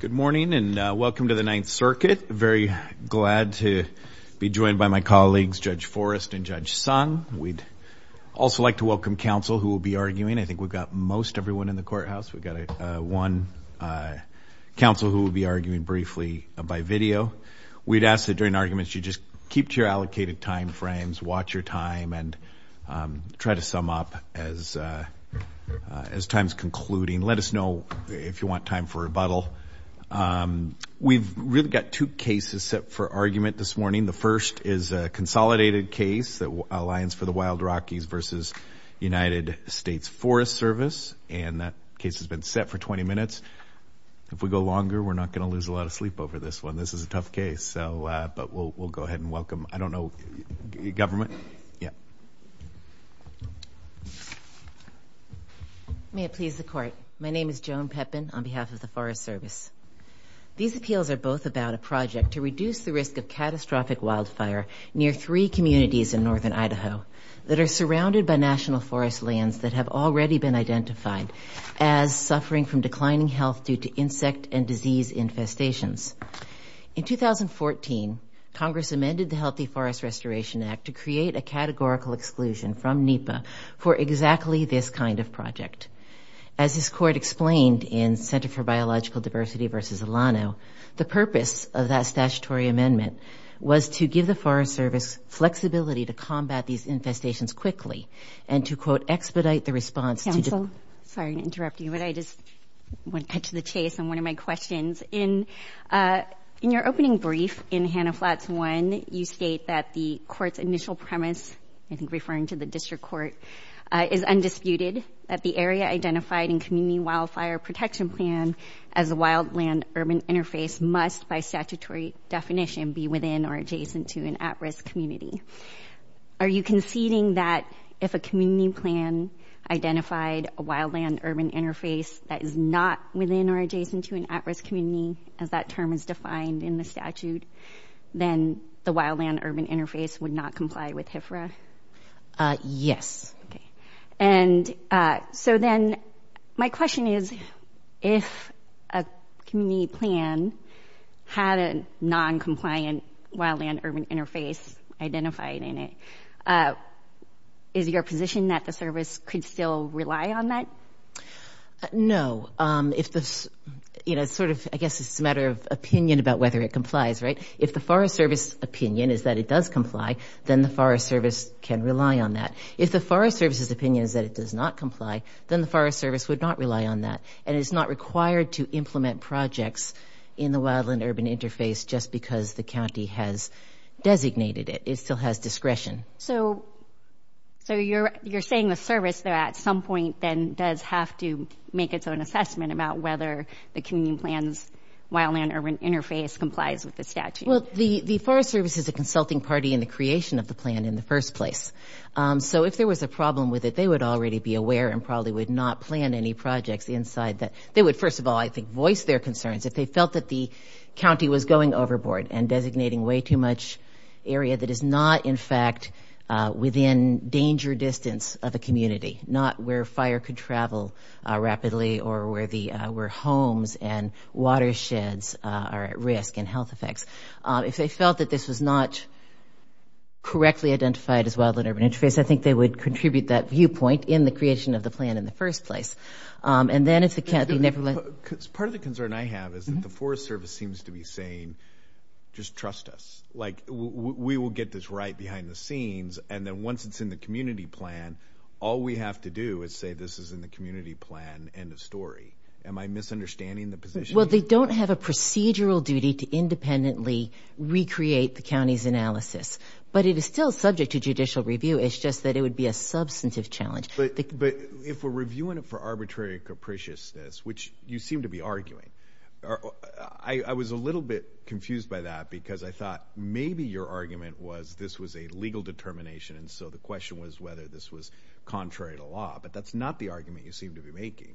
Good morning and welcome to the Ninth Circuit. Very glad to be joined by my colleagues, Judge Forrest and Judge Sun. We'd also like to welcome counsel who will be arguing. I think we've got most everyone in the courthouse. We've got one counsel who will be arguing briefly by video. We'd ask that during arguments you just keep to your allocated time frames, watch your time, and try to sum up as time's concluding. Let us know if you want time for rebuttal. We've really got two cases set for argument this morning. The first is a consolidated case, the Alliance for the Wild Rockies v. United States Forest Service. And that case has been set for 20 minutes. If we go longer, we're not going to lose a lot of sleep over this one. This is a tough case, but we'll go ahead and welcome, I don't know, government. Yeah. May it please the court, my name is Joan Pepin on behalf of the Forest Service. These appeals are both about a project to reduce the risk of catastrophic wildfire near three communities in northern Idaho that are surrounded by national forest lands that have already been identified as suffering from declining health due to insect and disease infestations. In 2014, Congress amended the Healthy Forest Restoration Act to create a categorical exclusion from NEPA for exactly this kind of project. As this court explained in Center for Biological Diversity v. Alano, the purpose of that statutory amendment was to give the Forest Service flexibility to combat these infestations quickly and to, quote, expedite the response. Council, sorry to interrupt you, but I just want to touch the chase on one of my questions. In your opening brief in Hanna Flats 1, you state that the court's initial premise, I think referring to the district court, is undisputed that the area identified in community wildfire protection plan as a wild land urban interface must by statutory definition be within or adjacent to an at risk community. Are you conceding that if a community plan identified a wild land urban interface that is not within or adjacent to an at risk community, if that term is defined in the statute, then the wild land urban interface would not comply with HFRA? Yes. And so then my question is, if a community plan had a noncompliant wild land urban interface identified in it, is your position that the service could still rely on that? No. It's sort of, I guess, it's a matter of opinion about whether it complies, right? If the Forest Service opinion is that it does comply, then the Forest Service can rely on that. If the Forest Service's opinion is that it does not comply, then the Forest Service would not rely on that. And it's not required to implement projects in the wild land urban interface just because the county has designated it. It still has discretion. So you're saying the service at some point then does have to make its own assessment about whether the community plan's wild land urban interface complies with the statute? Well, the Forest Service is a consulting party in the creation of the plan in the first place. So if there was a problem with it, they would already be aware and probably would not plan any projects inside that. They would, first of all, I think, voice their concerns. If they felt that the county was going overboard and designating way too much area that is not, in fact, within danger distance of a community, not where fire could travel rapidly or where homes and watersheds are at risk and health effects. If they felt that this was not correctly identified as wild land urban interface, I think they would contribute that viewpoint in the creation of the plan in the first place. Part of the concern I have is that the Forest Service seems to be saying, just trust us. Like, we will get this right behind the scenes. And then once it's in the community plan, all we have to do is say this is in the community plan and the story. Am I misunderstanding the position? Well, they don't have a procedural duty to independently recreate the county's analysis. But it is still subject to judicial review. It's just that it would be a substantive challenge. But if we're reviewing it for arbitrary capriciousness, which you seem to be arguing, I was a little bit confused by that because I thought maybe your argument was this was a legal determination. And so the question was whether this was contrary to law. But that's not the argument you seem to be making.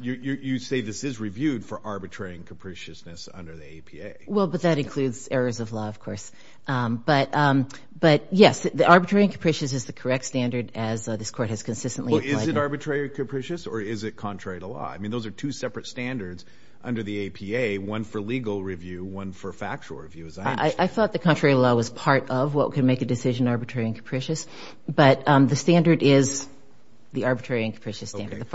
You say this is reviewed for arbitrary and capriciousness under the APA. Well, but that includes errors of law, of course. But, yes, the arbitrary and capriciousness is the correct standard as this court has consistently implied. Well, is it arbitrary and capricious or is it contrary to law? I mean, those are two separate standards under the APA, one for legal review, one for factual review. I thought the contrary law was part of what can make a decision arbitrary and capricious. But the standard is the arbitrary and capricious standard.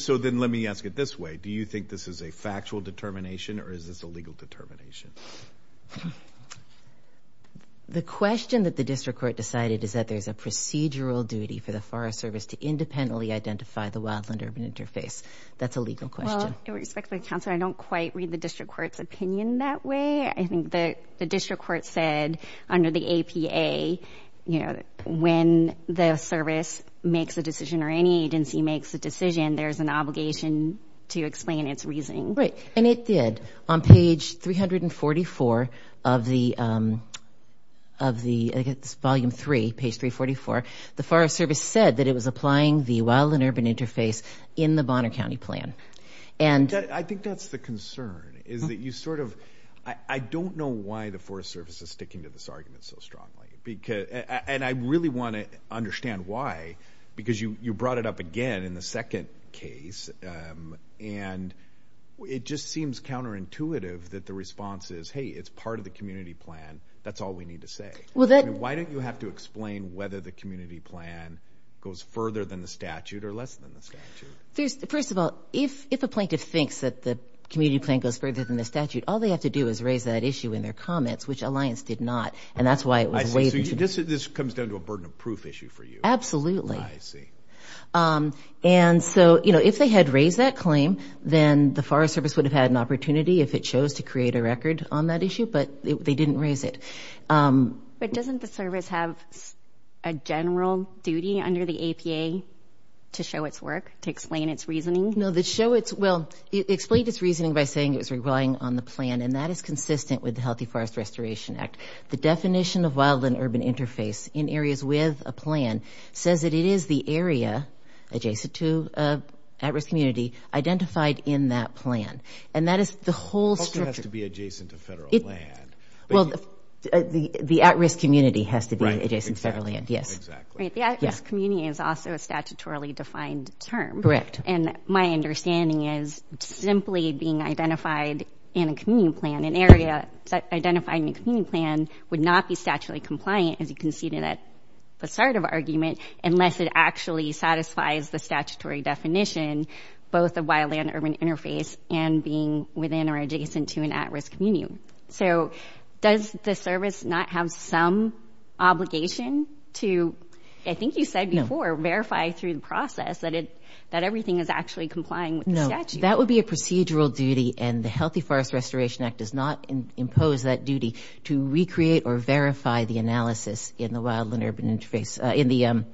So then let me ask it this way. Do you think this is a factual determination or is this a legal determination? The question that the district court decided is that there is a procedural duty for the Forest Service to independently identify the wildland urban interface. That's a legal question. Well, with respect to the counsel, I don't quite read the district court's opinion that way. I think the district court said under the APA, you know, when the service makes a decision or any agency makes a decision, there's an obligation to explain its reasoning. Right, and it did. On page 344 of the Volume 3, page 344, the Forest Service said that it was applying the wildland urban interface in the Bonner County Plan. I think that's the concern is that you sort of, I don't know why the Forest Service is sticking to this argument so strongly. And I really want to understand why, because you brought it up again in the second case. And it just seems counterintuitive that the response is, hey, it's part of the community plan. That's all we need to say. Why don't you have to explain whether the community plan goes further than the statute or less than the statute? First of all, if a plaintiff thinks that the community plan goes further than the statute, all they have to do is raise that issue in their comments, which Alliance did not, and that's why it was waived. This comes down to a burden of proof issue for you. Absolutely. I see. And so, you know, if they had raised that claim, then the Forest Service would have had an opportunity if it chose to create a record on that issue, but they didn't raise it. But doesn't the service have a general duty under the APA to show its work, to explain its reasoning? No, to show its, well, explain its reasoning by saying it's relying on the plan, and that is consistent with the Healthy Forest Restoration Act. The definition of wild and urban interface in areas with a plan says that it is the area adjacent to an at-risk community identified in that plan. And that is the whole structure. It also has to be adjacent to federal land. Well, the at-risk community has to be adjacent to federal land, yes. Right, exactly. The at-risk community is also a statutorily defined term. Correct. And my understanding is simply being identified in a community plan, an area that identified in a community plan would not be statutorily compliant and be conceded at the start of an argument unless it actually satisfies the statutory definition, both of wild and urban interface and being within or adjacent to an at-risk community. So does the service not have some obligation to, I think you said before, verify through the process that everything is actually complying with the statute? No, that would be a procedural duty, and the Healthy Forest Restoration Act does not impose that duty to recreate or verify the analysis in the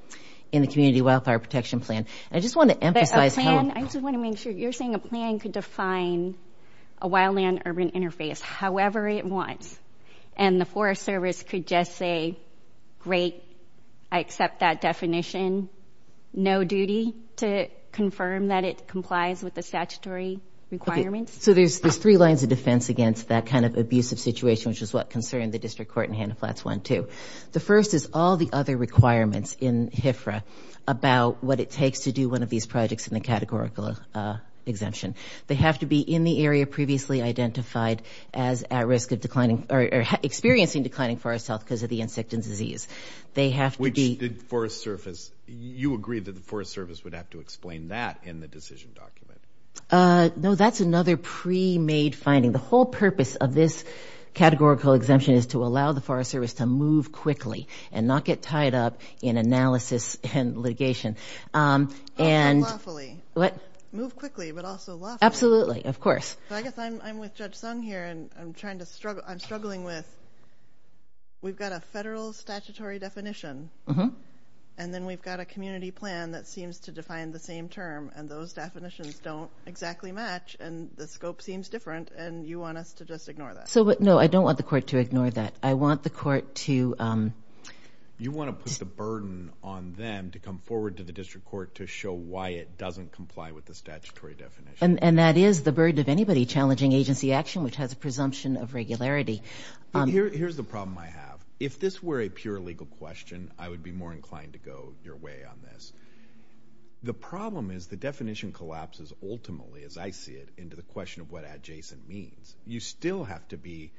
community wildfire protection plan. But a plan, I just want to make sure, you're saying a plan could define a wildland urban interface however it wants, and the Forest Service could just say, great, I accept that definition, no duty to confirm that it complies with the statutory requirements? So there's three lines of defense against that kind of abusive situation, which is what concerned the district court in Hanna Flats 1-2. The first is all the other requirements in HFRA about what it takes to do one of these projects in the categorical exemption. They have to be in the area previously identified as experiencing declining forest health because of the insect and disease. Which the Forest Service, you agree that the Forest Service would have to explain that in the decision document? No, that's another pre-made finding. The whole purpose of this categorical exemption is to allow the Forest Service to move quickly and not get tied up in analysis and litigation. Move quickly, but also lawfully. Absolutely, of course. I guess I'm with Judge Sung here, and I'm struggling with, we've got a federal statutory definition, and then we've got a community plan that seems to define the same term, and those definitions don't exactly match, and the scope seems different, and you want us to just ignore that. No, I don't want the court to ignore that. I want the court to... You want to put the burden on them to come forward to the district court to show why it doesn't comply with the statutory definition. And that is the burden of anybody challenging agency action, which has a presumption of regularity. Here's the problem I have. If this were a pure legal question, I would be more inclined to go your way on this. The problem is the definition collapses ultimately, as I see it, into the question of what adjacent means. You still have to be,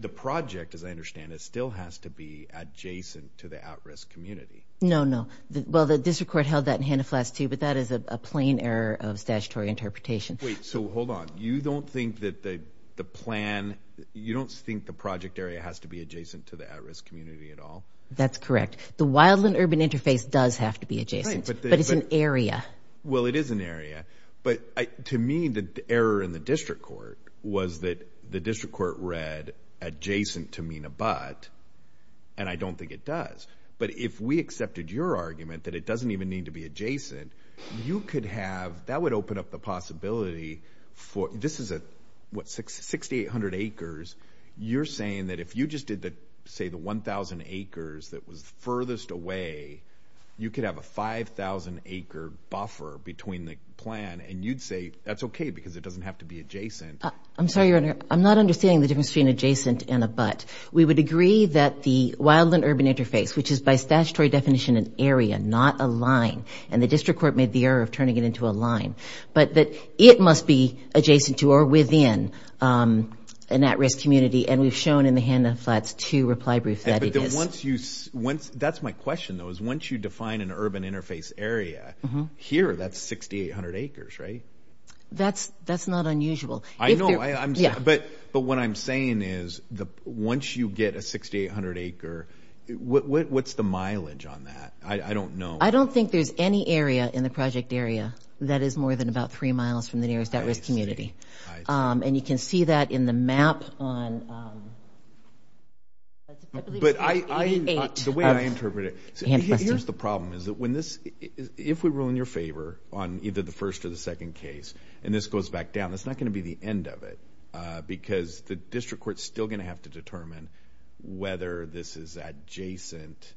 the project, as I understand it, still has to be adjacent to the at-risk community. No, no. Well, the district court held that in Hanna-Flats too, but that is a plain error of statutory interpretation. Wait, so hold on. You don't think that the plan, you don't think the project area has to be adjacent to the at-risk community at all? That's correct. The wildland urban interface does have to be adjacent, but it's an area. Well, it is an area, but to me, the error in the district court was that the district court read adjacent to mean a but, and I don't think it does. But if we accepted your argument that it doesn't even need to be adjacent, you could have, that would open up the possibility for, this is what, 6,800 acres. You're saying that if you just did, say, the 1,000 acres that was furthest away, you could have a 5,000-acre buffer between the plan, and you'd say that's okay because it doesn't have to be adjacent. I'm sorry, Your Honor. I'm not understanding the difference between adjacent and a but. We would agree that the wildland urban interface, which is by statutory definition an area, not a line, and the district court made the error of turning it into a line, but that it must be adjacent to or within an at-risk community, and we've shown in the handouts to reply, Bruce, that it is. That's my question, though, is once you define an urban interface area, here that's 6,800 acres, right? That's not unusual. I know. But what I'm saying is once you get a 6,800-acre, what's the mileage on that? I don't know. I don't think there's any area in the project area that is more than about three miles from the nearest at-risk community. And you can see that in the map on... But the way I interpret it, here's the problem is that if we rule in your favor on either the first or the second case and this goes back down, it's not going to be the end of it because the district court's still going to have to determine whether this is adjacent.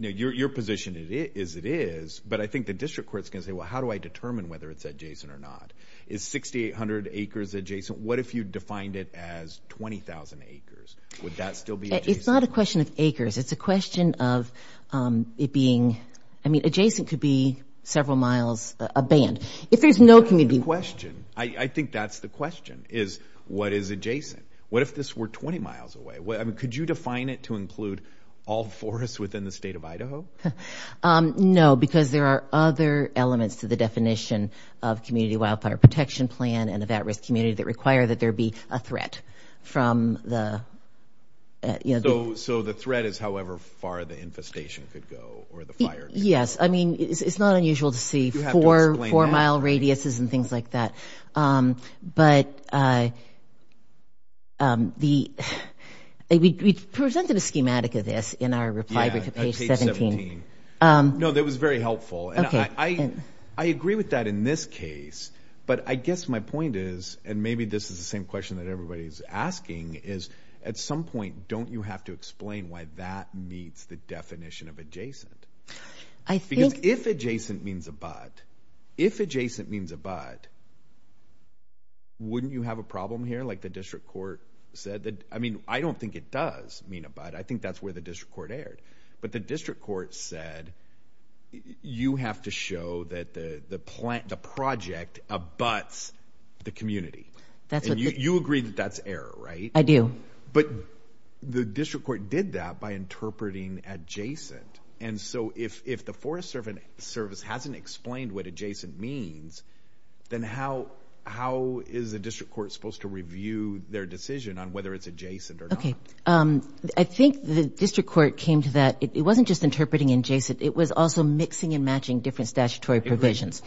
Your position is it is, but I think the district court's going to say, well, how do I determine whether it's adjacent or not? Is 6,800 acres adjacent? What if you defined it as 20,000 acres? Would that still be adjacent? It's not a question of acres. It's a question of it being, I mean, adjacent to be several miles, a band. If there's no community... That's the question. I think that's the question, is what is adjacent? What if this were 20 miles away? I mean, could you define it to include all forests within the state of Idaho? No, because there are other elements to the definition of community wildfire protection plan and of that risk community that require that there be a threat from the... So the threat is however far the infestation could go or the fire could go. Yes. I mean, it's not unusual to see four mile radiuses and things like that. But we presented a schematic of this in our reply to page 17. No, that was very helpful. And I agree with that in this case. But I guess my point is, and maybe this is the same question that everybody's asking, is at some point, don't you have to explain why that meets the definition of adjacent? Because if adjacent means abut, if adjacent means abut, wouldn't you have a problem here? Like the district court said that... I mean, I don't think it does mean abut. I think that's where the district court erred. But the district court said, you have to show that the project abuts the community. And you agree that that's error, right? I do. But the district court did that by interpreting adjacent. And so if the Forest Service hasn't explained what adjacent means, then how is the district court supposed to review their decision on whether it's adjacent or not? Okay. I think the district court came to that. It wasn't just interpreting adjacent. It was also mixing and matching different statutory provisions.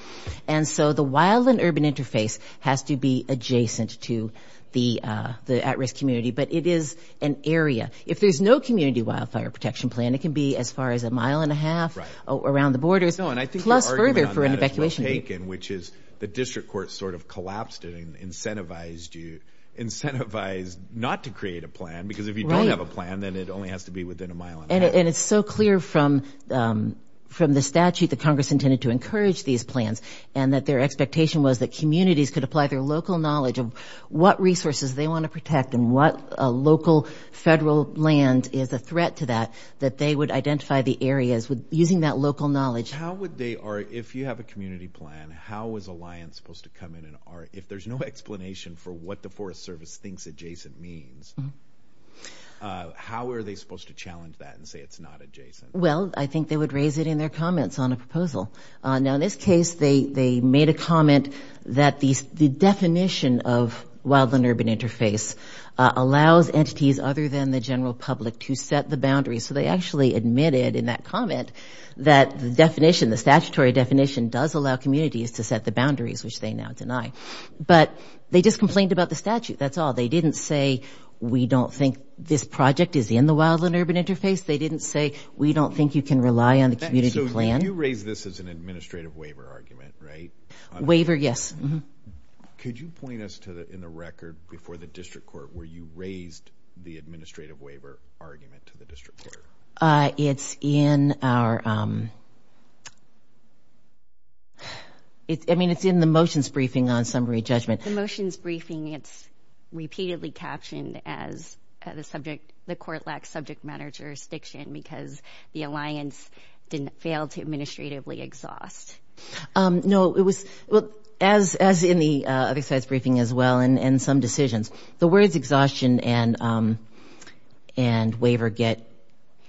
And so the wild and urban interface has to be adjacent to the at-risk community. But it is an area. If there's no community wildfire protection plan, it can be as far as a mile and a half around the border. No, and I think the argument on that is mistaken, which is the district court sort of collapsed it and incentivized you not to create a plan. Because if you don't have a plan, then it only has to be within a mile and a half. And it's so clear from the statute that Congress intended to encourage these plans and that their expectation was that communities could apply their local knowledge of what resources they want to protect and what local federal land is a threat to that, that they would identify the areas using that local knowledge. How would they, if you have a community plan, how is Alliance supposed to come in and if there's no explanation for what the Forest Service thinks adjacent means, how are they supposed to challenge that and say it's not adjacent? Well, I think they would raise it in their comments on a proposal. Now in this case, they made a comment that the definition of wild and urban interface allows entities other than the general public to set the boundaries. So they actually admitted in that comment that the definition, the statutory definition, does allow communities to set the boundaries, which they now deny. But they just complained about the statute, that's all. They didn't say we don't think this project is in the wild and urban interface. They didn't say we don't think you can rely on a community plan. So you raised this as an administrative waiver argument, right? Waiver, yes. Could you point us to, in the record before the district court, where you raised the administrative waiver argument to the district court? It's in our, I mean it's in the motions briefing on summary judgment. The motions briefing, it's repeatedly captioned as the court lacks subject matter jurisdiction because the alliance didn't fail to administratively exhaust. No, it was, as in the other side's briefing as well and some decisions, the words exhaustion and waiver get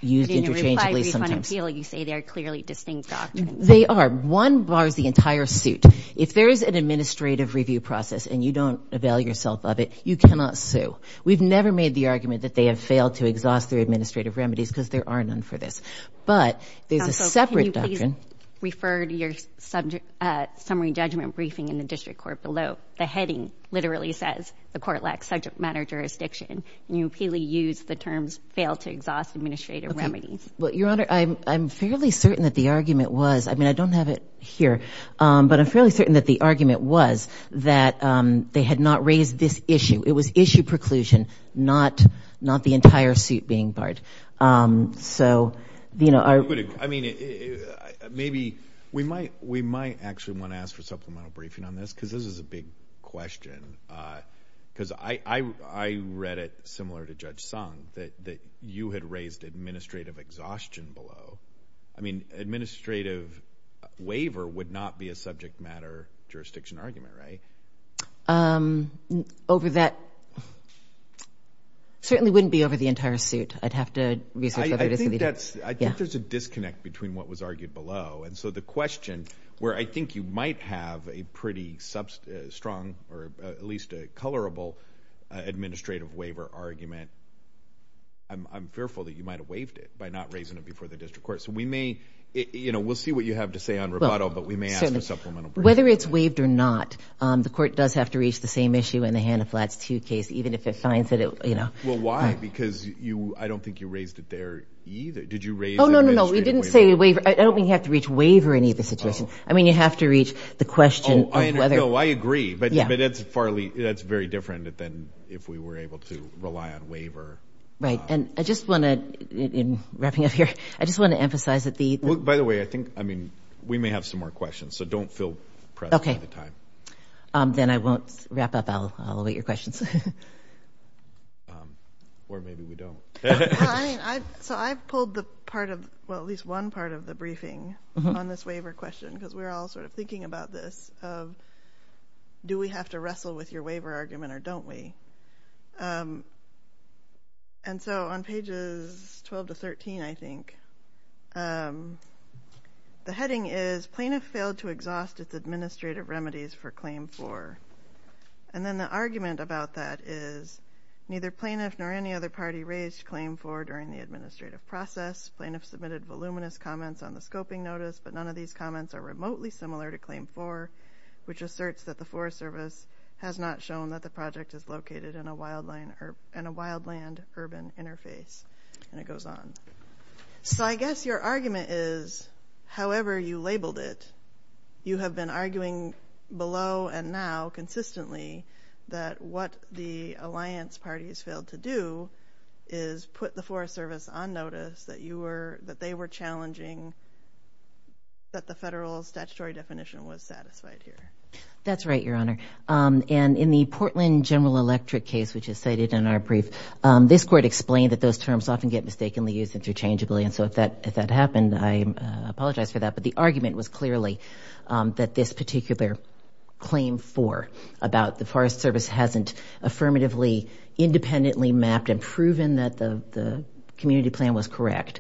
used interchangeably sometimes. In the reply brief on appeal, you say they're clearly distinct doctrines. They are. One bars the entire suit. If there is an administrative review process and you don't avail yourself of it, you cannot sue. We've never made the argument that they have failed to exhaust their administrative remedies because there are none for this. But there's a separate doctrine. Also, can you please refer to your summary judgment briefing in the district court below. The heading literally says the court lacks subject matter jurisdiction. And you repeatedly use the terms fail to exhaust administrative remedies. Your Honor, I'm fairly certain that the argument was, I mean I don't have it here, but I'm fairly certain that the argument was that they had not raised this issue. It was issue preclusion, not the entire suit being barred. So, you know. I mean, maybe we might actually want to ask for supplemental briefing on this because this is a big question because I read it similar to Judge Sung that you had raised administrative exhaustion below. I mean, administrative waiver would not be a subject matter jurisdiction argument, right? Over that, certainly wouldn't be over the entire suit. I'd have to research that. I think there's a disconnect between what was argued below. And so the question where I think you might have a pretty strong or at least a colorable administrative waiver argument, I'm fearful that you might have waived it by not raising it before the district court. So we may, you know, we'll see what you have to say on Roboto, but we may ask for supplemental briefing. Whether it's waived or not, the court does have to reach the same issue in the Hannah-Flack Pew case, even if it finds that it, you know. Well, why? Because I don't think you raised it there either. Oh, no, no, no. We didn't say waiver. I don't think you have to reach waiver in either situation. I mean, you have to reach the question of whether. No, I agree. But that's very different than if we were able to rely on waiver. Right. And I just want to, in wrapping up here, I just want to emphasize that the... By the way, I think, I mean, we may have some more questions. So don't feel pressured at the time. Okay. Then I won't wrap up. I'll await your questions. Or maybe we don't. So I pulled the part of, well, at least one part of the briefing on this waiver question because we're all sort of thinking about this, of do we have to wrestle with your waiver argument or don't we? And so on pages 12 to 13, I think, the heading is, Plaintiffs failed to exhaust its administrative remedies for Claim 4. And then the argument about that is, neither plaintiff nor any other party raised Claim 4 during the administrative process. Plaintiffs submitted voluminous comments on the scoping notice, but none of these comments are remotely similar to Claim 4, which asserts that the Forest Service has not shown that the project is located in a wildland urban interface. And it goes on. So I guess your argument is, however you labeled it, you have been arguing below and now consistently that what the Alliance Party has failed to do is put the Forest Service on notice that they were challenging that the federal statutory definition was satisfied here. That's right, Your Honor. And in the Portland General Electric case, which is cited in our brief, this court explained that those terms often get mistakenly used interchangeably. And so if that happened, I apologize for that. But the argument was clearly that this particular Claim 4 about the Forest Service hasn't affirmatively independently mapped and proven that the community plan was correct,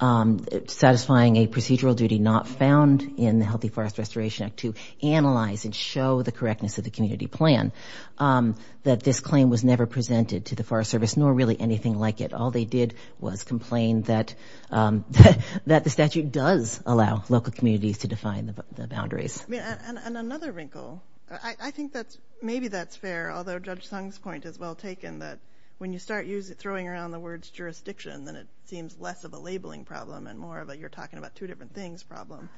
satisfying a procedural duty not found in the Healthy Forest Restoration Act to analyze and show the correctness of the community plan, that this claim was never presented to the Forest Service, nor really anything like it. All they did was complain that the statute does allow local communities to define the boundaries. And another wrinkle. I think that maybe that's fair, although Judge Tung's point is well taken, that when you start throwing around the words jurisdiction, then it seems less of a labeling problem and more of a you're talking about two different things problem.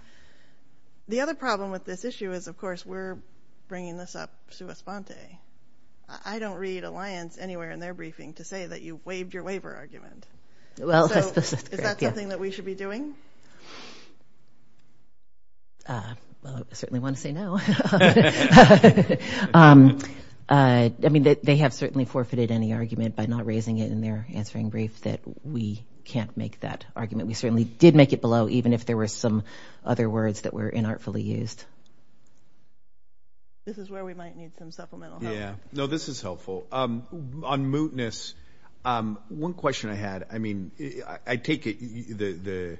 The other problem with this issue is, of course, we're bringing this up sui sponte. I don't read Alliance anywhere in their briefing to say that you waived your waiver argument. So is that something that we should be doing? Well, I certainly want to say no. I mean, they have certainly forfeited any argument by not raising it in their answering brief that we can't make that argument. We certainly did make it below, even if there were some other words that were inartfully used. This is where we might need some supplemental help. Yeah. No, this is helpful. On mootness. One question I had. I mean, I take it.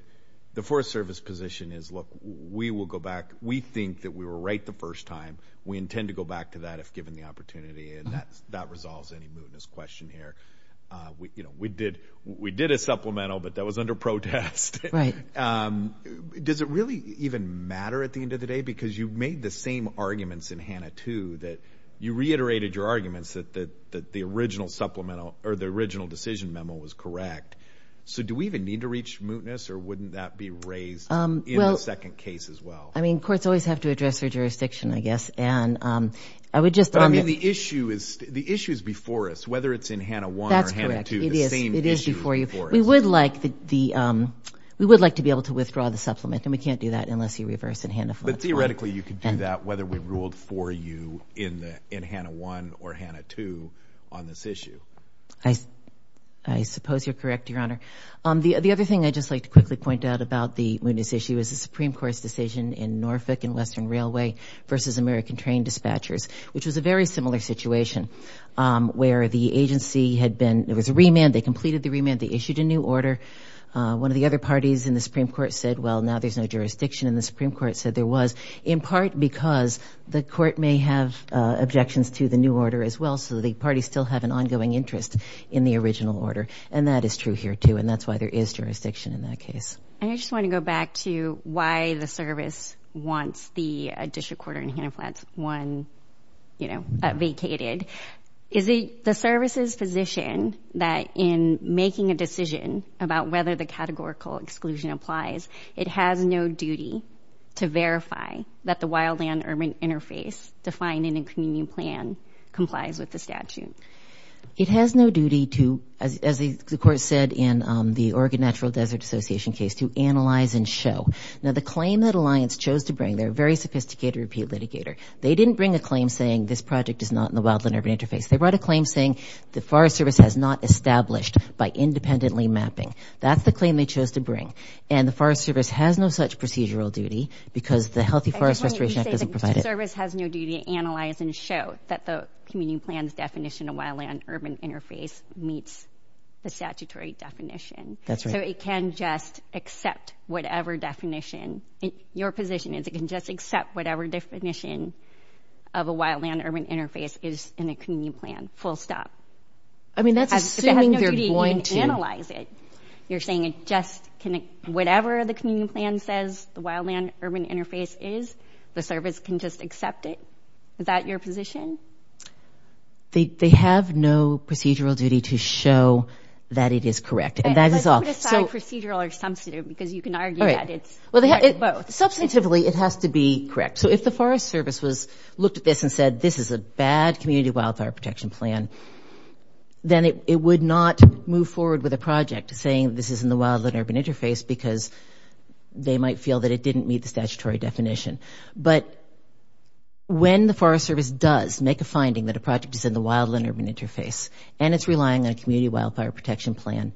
The Forest Service position is, look, we will go back. We think that we were right the first time. We intend to go back to that if given the opportunity. And that resolves any mootness question here. We did a supplemental, but that was under protest. Does it really even matter at the end of the day? I mean, because you made the same arguments in HANA 2 that you reiterated your arguments that the original supplemental or the original decision memo was correct. So do we even need to reach mootness, or wouldn't that be raised in a second case as well? I mean, courts always have to address their jurisdiction, I guess. And I would just – I mean, the issue is before us, whether it's in HANA 1 or HANA 2. That's correct. It is before you. We would like to be able to withdraw the supplement, and we can't do that unless you reverse in HANA 4. But theoretically, you could do that whether we ruled for you in HANA 1 or HANA 2 on this issue. I suppose you're correct, Your Honor. The other thing I'd just like to quickly point out about the mootness issue is the Supreme Court's decision in Norfolk and Western Railway versus American Train Dispatchers, which was a very similar situation where the agency had been – there was a remand. They completed the remand. They issued a new order. One of the other parties in the Supreme Court said, well, now there's no jurisdiction. And the Supreme Court said there was, in part because the court may have objections to the new order as well, so the parties still have an ongoing interest in the original order. And that is true here too, and that's why there is jurisdiction in that case. I just want to go back to why the service wants the additional quarter in HANA 1 vacated. Is the service's position that in making a decision about whether the categorical exclusion applies, it has no duty to verify that the wildland-urban interface defined in the community plan complies with the statute? It has no duty to, as the court said in the Oregon Natural Desert Association case, to analyze and show. Now, the claim that Alliance chose to bring – they're a very sophisticated repeal litigator. They didn't bring a claim saying this project is not in the wildland-urban interface. They brought a claim saying the Forest Service has not established by independently mapping. That's the claim they chose to bring, and the Forest Service has no such procedural duty because the Healthy Forest Restoration Act doesn't provide it. So you're saying the service has no duty to analyze and show that the community plan's definition of wildland-urban interface meets the statutory definition. That's right. So it can just accept whatever definition – your position is it can just accept whatever definition of a wildland-urban interface is in a community plan, full stop. I mean, that's assuming you're going to – It has no duty to analyze it. You're saying it just can – whatever the community plan says the wildland-urban interface is, the service can just accept it? Is that your position? They have no procedural duty to show that it is correct. Let's put aside procedural or substantive because you can argue that it's both. Substantively, it has to be correct. So if the Forest Service looked at this and said this is a bad community wildfire protection plan, then it would not move forward with a project saying this is in the wildland-urban interface because they might feel that it didn't meet the statutory definition. But when the Forest Service does make a finding that a project is in the wildland-urban interface and it's relying on a community wildfire protection plan,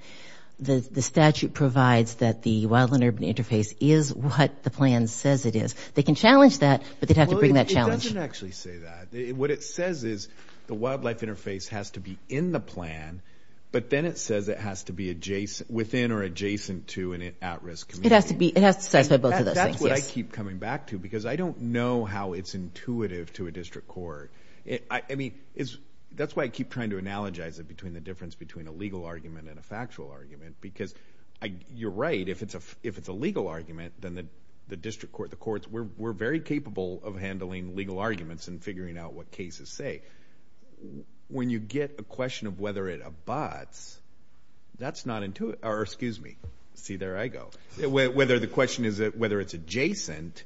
the statute provides that the wildland-urban interface is what the plan says it is. They can challenge that, but they'd have to pretty much challenge it. Well, it doesn't actually say that. What it says is the wildlife interface has to be in the plan, but then it says it has to be within or adjacent to an at-risk community. It has to be. That's what I keep coming back to because I don't know how it's intuitive to a district court. I mean, that's why I keep trying to analogize it between the difference between a legal argument and a factual argument because you're right, if it's a legal argument, then the district court, the courts, we're very capable of handling legal arguments and figuring out what cases say. When you get a question of whether it abuts, that's not intuitive. Excuse me. See, there I go. Whether the question is whether it's adjacent,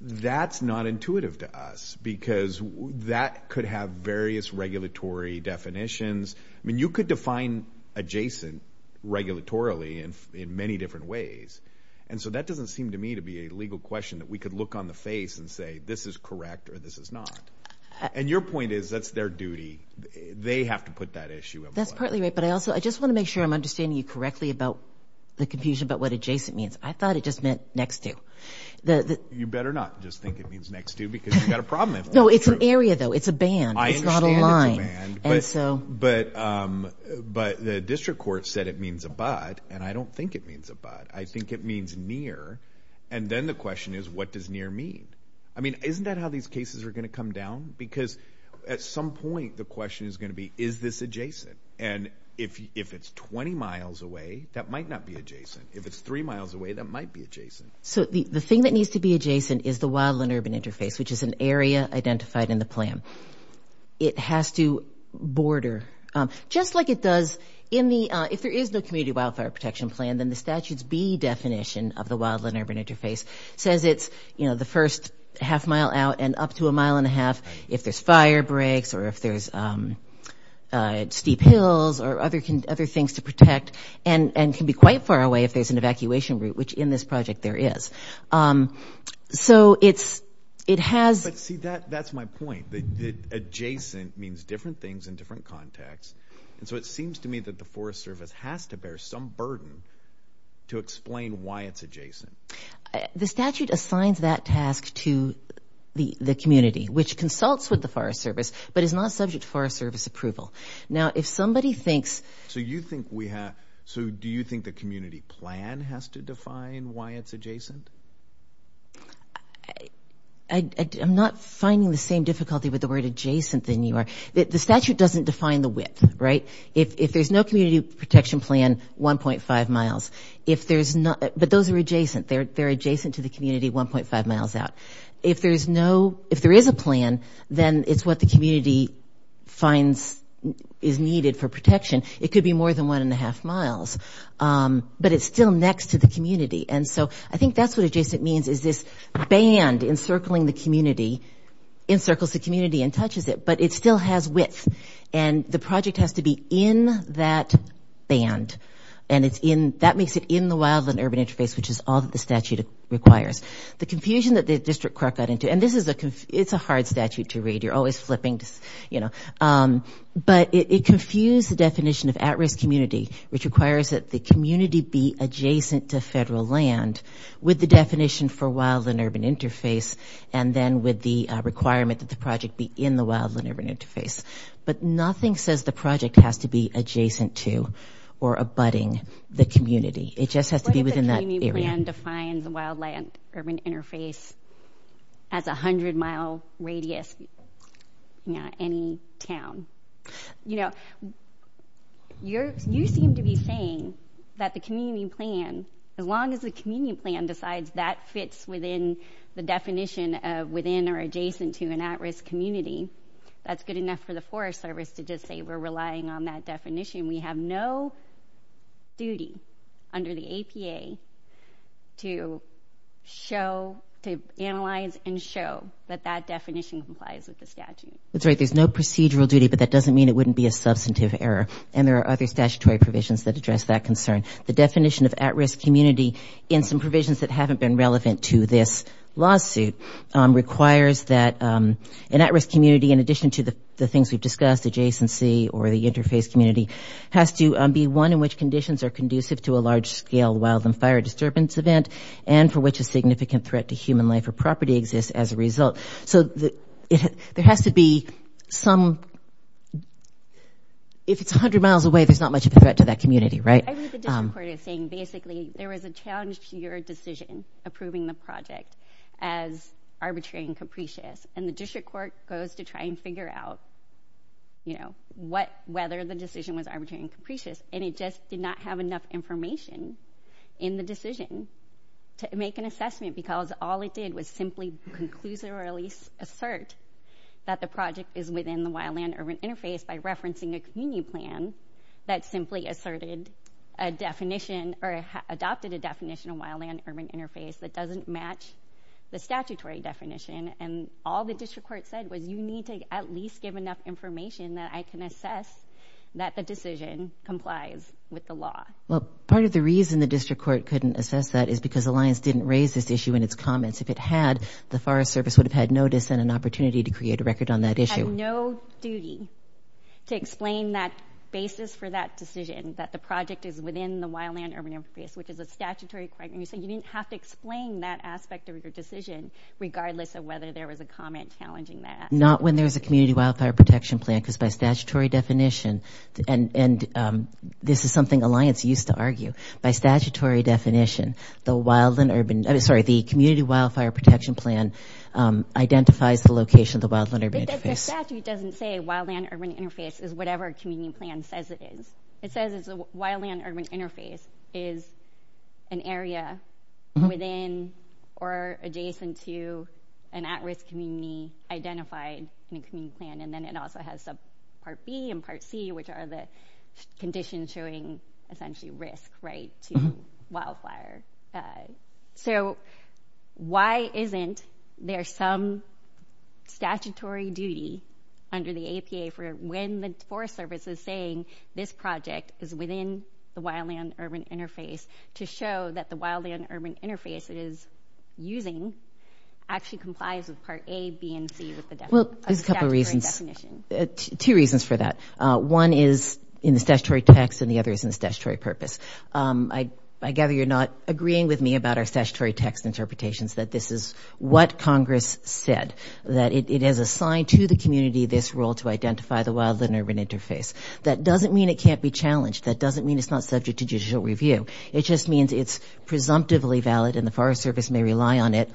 that's not intuitive to us because that could have various regulatory definitions. I mean, you could define adjacent regulatorily in many different ways, and so that doesn't seem to me to be a legal question that we could look on the face and say this is correct or this is not. And your point is that's their duty. They have to put that issue in place. I just want to make sure I'm understanding you correctly about the confusion about what adjacent means. I thought it just meant next to. You better not just think it means next to because you've got a problem. No, it's an area, though. It's a band. It's not a line. But the district court said it means abut, and I don't think it means abut. I think it means near, and then the question is what does near mean? I mean, isn't that how these cases are going to come down? Because at some point the question is going to be is this adjacent? And if it's 20 miles away, that might not be adjacent. If it's three miles away, that might be adjacent. So the thing that needs to be adjacent is the wildland-urban interface, which is an area identified in the plan. It has to border. Just like it does in the, if there is the community wildfire protection plan, then the statute's B definition of the wildland-urban interface says it's the first half mile out and up to a mile and a half if there's fire breaks or if there's steep hills or other things to protect and can be quite far away if there's an evacuation route, which in this project there is. So it has- But see, that's my point. Adjacent means different things in different contexts. And so it seems to me that the Forest Service has to bear some burden to explain why it's adjacent. The statute assigns that task to the community, which consults with the Forest Service but is not subject to Forest Service approval. Now, if somebody thinks- So you think we have- So do you think the community plan has to define why it's adjacent? I'm not finding the same difficulty with the word adjacent than you are. The statute doesn't define the width, right? If there's no community protection plan, 1.5 miles. If there's not- But those are adjacent. They're adjacent to the community 1.5 miles out. If there's no- If there is a plan, then it's what the community finds is needed for protection. It could be more than one and a half miles. But it's still next to the community. And so I think that's what adjacent means is this band encircling the community, encircles the community and touches it, but it still has width. And the project has to be in that band. And that makes it in the wildland-urban interface, which is all that the statute requires. The confusion that the district court got into- And this is a- It's a hard statute to read. You're always slipping, you know. But it confused the definition of at-risk community, which requires that the community be adjacent to federal land, with the definition for wildland-urban interface, and then with the requirement that the project be in the wildland-urban interface. But nothing says the project has to be adjacent to or abutting the community. It just has to be within that area. What if the community then defines the wildland-urban interface as a hundred-mile radius in any town? You know, you seem to be saying that the community plan, as long as the community plan decides that fits within the definition of within or adjacent to an at-risk community, that's good enough for the Forest Service to just say we're relying on that definition. We have no duty under the APA to show-to analyze and show that that definition complies with the statute. That's right. There's no procedural duty, but that doesn't mean it wouldn't be a substantive error. And there are other statutory provisions that address that concern. The definition of at-risk community in some provisions that haven't been relevant to this lawsuit requires that an at-risk community, in addition to the things we've discussed, adjacency or the interface community, has to be one in which conditions are conducive to a large-scale wildland fire disturbance event and for which a significant threat to human life or property exists as a result. So there has to be some – if it's a hundred miles away, there's not much of a threat to that community, right? I think the district court is saying basically there was a challenge to your decision approving the project as arbitrary and capricious, and the district court goes to try and figure out whether the decision was arbitrary and capricious, and it just did not have enough information in the decision to make an assessment because all it did was simply conclusive or at least assert that the project is within the wildland-urban interface by referencing a community plan that simply asserted a definition or adopted a definition of wildland-urban interface that doesn't match the statutory definition, and all the district court said was you need to at least give enough information that I can assess that the decision complies with the law. Well, part of the reason the district court couldn't assess that is because Alliance didn't raise this issue in its comments. If it had, the Forest Service would have had notice and an opportunity to create a record on that issue. You have no duty to explain that basis for that decision, that the project is within the wildland-urban interface, which is a statutory requirement, and you didn't have to explain that aspect of your decision regardless of whether there was a comment challenging that. Not when there's a community wildfire protection plan because by statutory definition, and this is something Alliance used to argue, by statutory definition, the community wildfire protection plan identifies the location of the wildland-urban interface. The statute doesn't say wildland-urban interface is whatever community plan says it is. It says the wildland-urban interface is an area within or adjacent to an at-risk community identified in the community plan, and then it also has Part B and Part C, which are the conditions showing essentially risk to wildfire. So why isn't there some statutory duty under the APA for when the Forest Service is saying this project is within the wildland-urban interface to show that the wildland-urban interface it is using actually complies with Part A, B, and C of the statutory definition? Well, there's a couple of reasons. Two reasons for that. One is in the statutory text and the other is in the statutory purpose. I gather you're not agreeing with me about our statutory text interpretations that this is what Congress said, that it is assigned to the community this role to identify the wildland-urban interface. That doesn't mean it can't be challenged. That doesn't mean it's not subject to judicial review. It just means it's presumptively valid and the Forest Service may rely on it.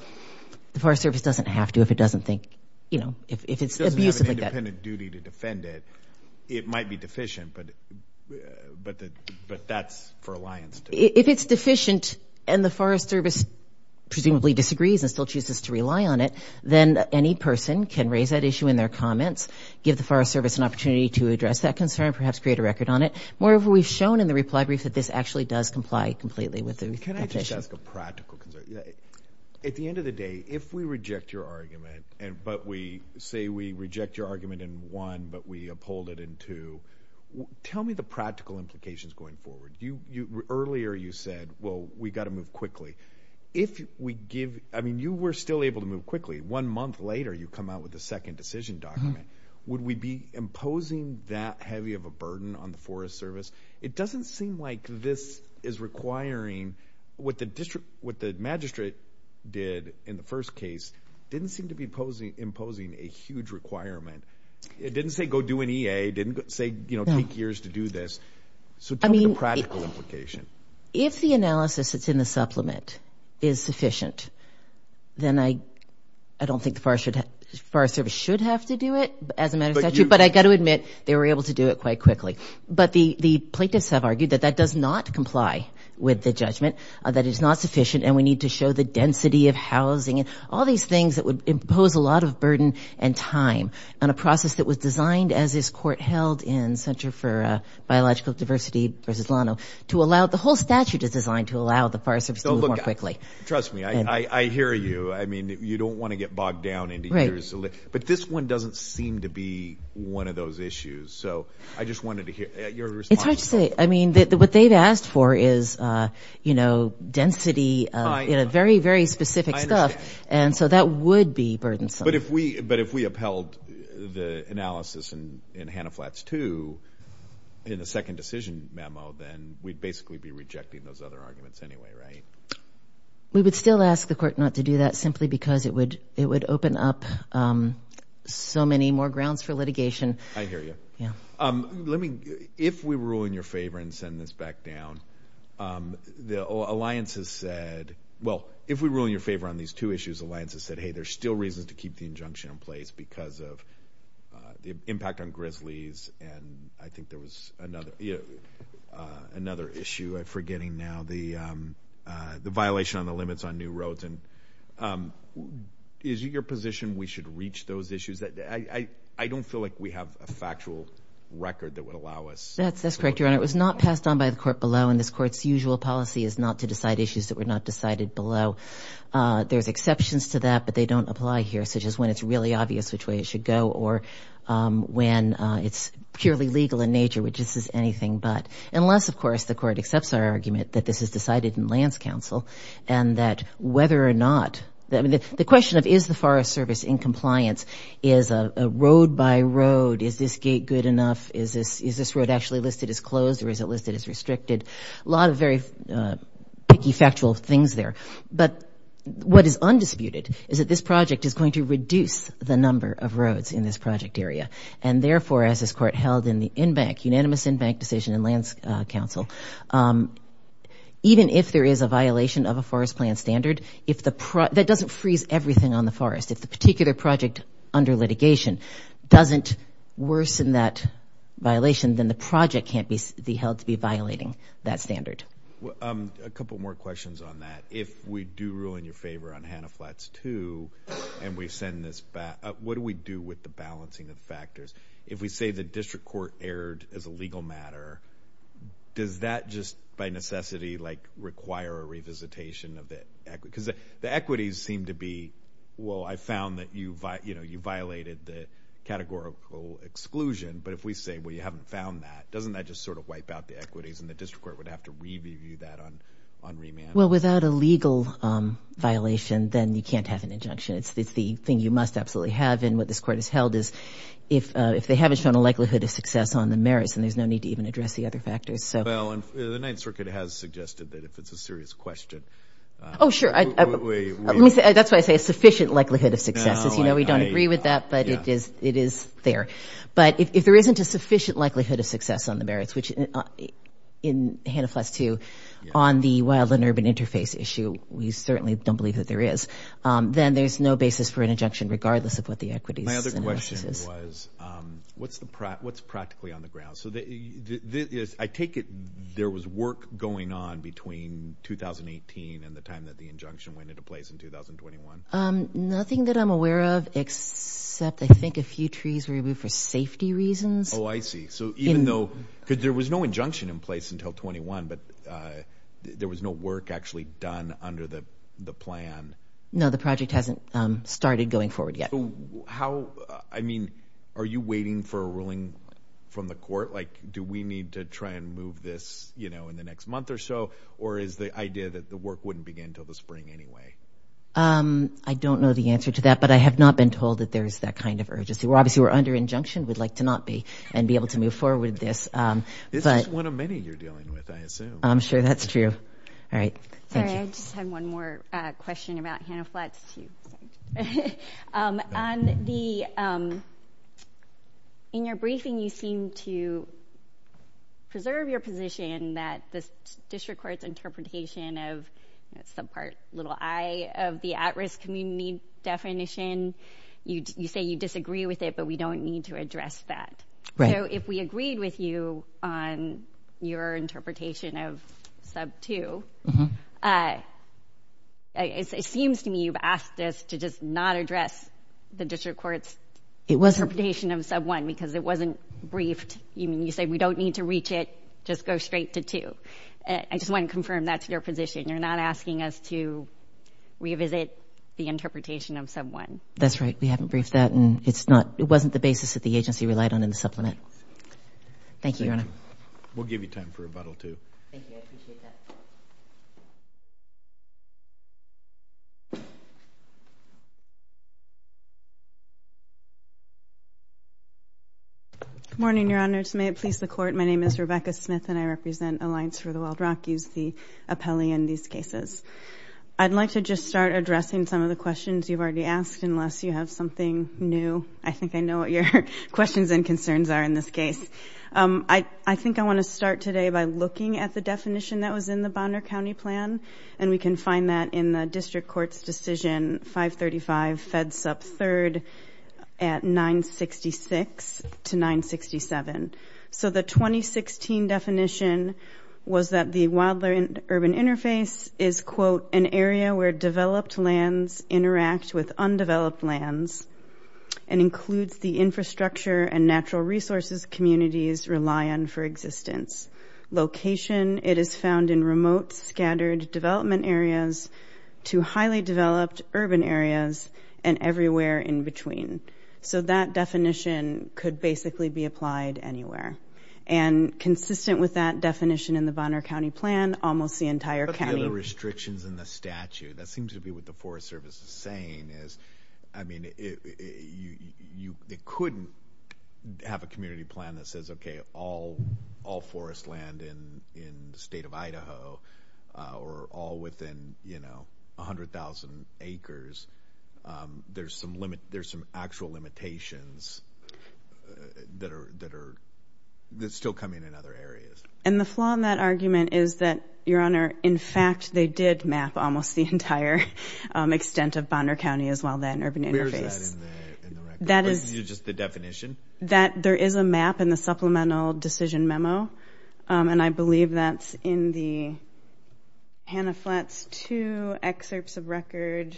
The Forest Service doesn't have to if it doesn't think, you know, if it's abusive like that. It doesn't have an independent duty to defend it. It might be deficient, but that's for alliance. If it's deficient and the Forest Service presumably disagrees and still chooses to rely on it, then any person can raise that issue in their comments, give the Forest Service an opportunity to address that concern, perhaps create a record on it. Moreover, we've shown in the reply brief that this actually does comply completely with the petition. Can I just ask a practical question? At the end of the day, if we reject your argument, but we say we reject your argument in one but we uphold it in two, tell me the practical implications going forward. Earlier you said, well, we've got to move quickly. If we give – I mean, you were still able to move quickly. One month later you come out with a second decision document. Would we be imposing that heavy of a burden on the Forest Service? It doesn't seem like this is requiring – what the magistrate did in the first case didn't seem to be imposing a huge requirement. It didn't say go do an EA. It didn't say, you know, take years to do this. So tell me the practical implication. If the analysis that's in the supplement is sufficient, then I don't think the Forest Service should have to do it as a magistrate, but I've got to admit they were able to do it quite quickly. But the plaintiffs have argued that that does not comply with the judgment, that it's not sufficient, and we need to show the density of housing and all these things that would impose a lot of burden and time on a process that was designed, as this court held in Center for Biological Diversity versus Lano, to allow – the whole statute is designed to allow the Forest Service to move more quickly. So look, trust me, I hear you. I mean, you don't want to get bogged down in these years. But this one doesn't seem to be one of those issues. So I just wanted to hear your response. It's just that – I mean, what they've asked for is, you know, density, very, very specific stuff. I understand. And so that would be burdensome. But if we upheld the analysis in Hannah Flats 2 in the second decision memo, then we'd basically be rejecting those other arguments anyway, right? We would still ask the court not to do that simply because it would open up so many more grounds for litigation. I hear you. Yeah. Let me – if we were ruling your favor and send this back down, the alliances said – well, if we were ruling your favor on these two issues, the alliances said, hey, there's still reason to keep the injunction in place because of the impact on grizzlies. And I think there was another issue I'm forgetting now, the violation on the limits on new roads. And is it your position we should reach those issues? I don't feel like we have a factual record that would allow us. That's correct, Your Honor. It was not passed on by the court below, and this court's usual policy is not to decide issues that were not decided below. There are exceptions to that, but they don't apply here, such as when it's really obvious which way it should go or when it's purely legal in nature, which is just anything but. Unless, of course, the court accepts our argument that this is decided in lands council and that whether or not – the question of is the Forest Service in compliance is a road by road. Is this gate good enough? Is this road actually listed as closed or is it listed as restricted? A lot of very picky, factual things there. But what is undisputed is that this project is going to reduce the number of roads in this project area. And therefore, as this court held in the unanimous in-bank decision in lands council, even if there is a violation of a forest plan standard, that doesn't freeze everything on the forest. If the particular project under litigation doesn't worsen that violation, then the project can't be held to be violating that standard. A couple more questions on that. If we do rule in your favor on Hanna Flats 2 and we send this back, what do we do with the balancing of factors? If we say the district court erred as a legal matter, does that just by necessity require a revisitation of it? Because the equities seem to be, well, I found that you violated the categorical exclusion. But if we say, well, you haven't found that, doesn't that just sort of wipe out the equities and the district court would have to review that on remand? Well, without a legal violation, then you can't have an injunction. It's the thing you must absolutely have. And what this court has held is if they haven't shown a likelihood of success on the merits, then there's no need to even address the other factors. Well, the Ninth Circuit has suggested that if it's a serious question. Oh, sure. That's why I say a sufficient likelihood of success. We don't agree with that, but it is there. But if there isn't a sufficient likelihood of success on the merits, which in Hanna Flats 2 on the wild and urban interface issue, we certainly don't believe that there is, then there's no basis for an injunction regardless of what the equity is. My other question was what's practically on the ground? I take it there was work going on between 2018 and the time that the injunction went into place in 2021. Nothing that I'm aware of except I think a few trees were removed for safety reasons. Oh, I see. Because there was no injunction in place until 21, but there was no work actually done under the plan. No, the project hasn't started going forward yet. Are you waiting for a ruling from the court? Do we need to try and move this in the next month or so, or is the idea that the work wouldn't begin until the spring anyway? I don't know the answer to that, but I have not been told that there is that kind of urgency. Obviously, we're under injunction. We'd like to not be and be able to move forward with this. This is one of many you're dealing with, I assume. I'm sure that's true. I just have one more question about Hannah Flats. In your briefing, you seem to preserve your position that the district court's interpretation of subpart little i of the at-risk community definition, you say you disagree with it, but we don't need to address that. If we agreed with you on your interpretation of sub two, it seems to me you've asked us to just not address the district court's interpretation of sub one because it wasn't briefed. You said we don't need to reach it. Just go straight to two. I just want to confirm that's your position. You're not asking us to revisit the interpretation of sub one. That's right. We haven't briefed that, and it wasn't the basis that the agency relied on in the supplement. Thank you, Your Honor. We'll give you time for rebuttal, too. Thank you. I appreciate that. Good morning, Your Honors. May it please the Court, my name is Rebecca Smith, and I represent Alliance for the World Rock. You see Apelli in these cases. I'd like to just start addressing some of the questions you've already asked unless you have something new. I think I know what your questions and concerns are in this case. I think I want to start today by looking at the definition that was in the Bonner County Plan, and we can find that in the district court's decision 535, fed sub third at 966 to 967. So the 2016 definition was that the wildland urban interface is, quote, an area where developed lands interact with undeveloped lands and includes the infrastructure and natural resources communities rely on for existence. Location, it is found in remote, scattered development areas to highly developed urban areas and everywhere in between. So that definition could basically be applied anywhere. And consistent with that definition in the Bonner County Plan, almost the entire county. There are restrictions in the statute. That seems to be what the Forest Service is saying. I mean, you couldn't have a community plan that says, okay, all forest land in the state of Idaho or all within, you know, 100,000 acres. There's some actual limitations that are still coming in other areas. And the flaw in that argument is that, Your Honor, in fact, they did map almost the entire extent of Bonner County as well then, urban interface. Where is that in the definition? There is a map in the supplemental decision memo, and I believe that's in the Hannah Fletch's two excerpts of record.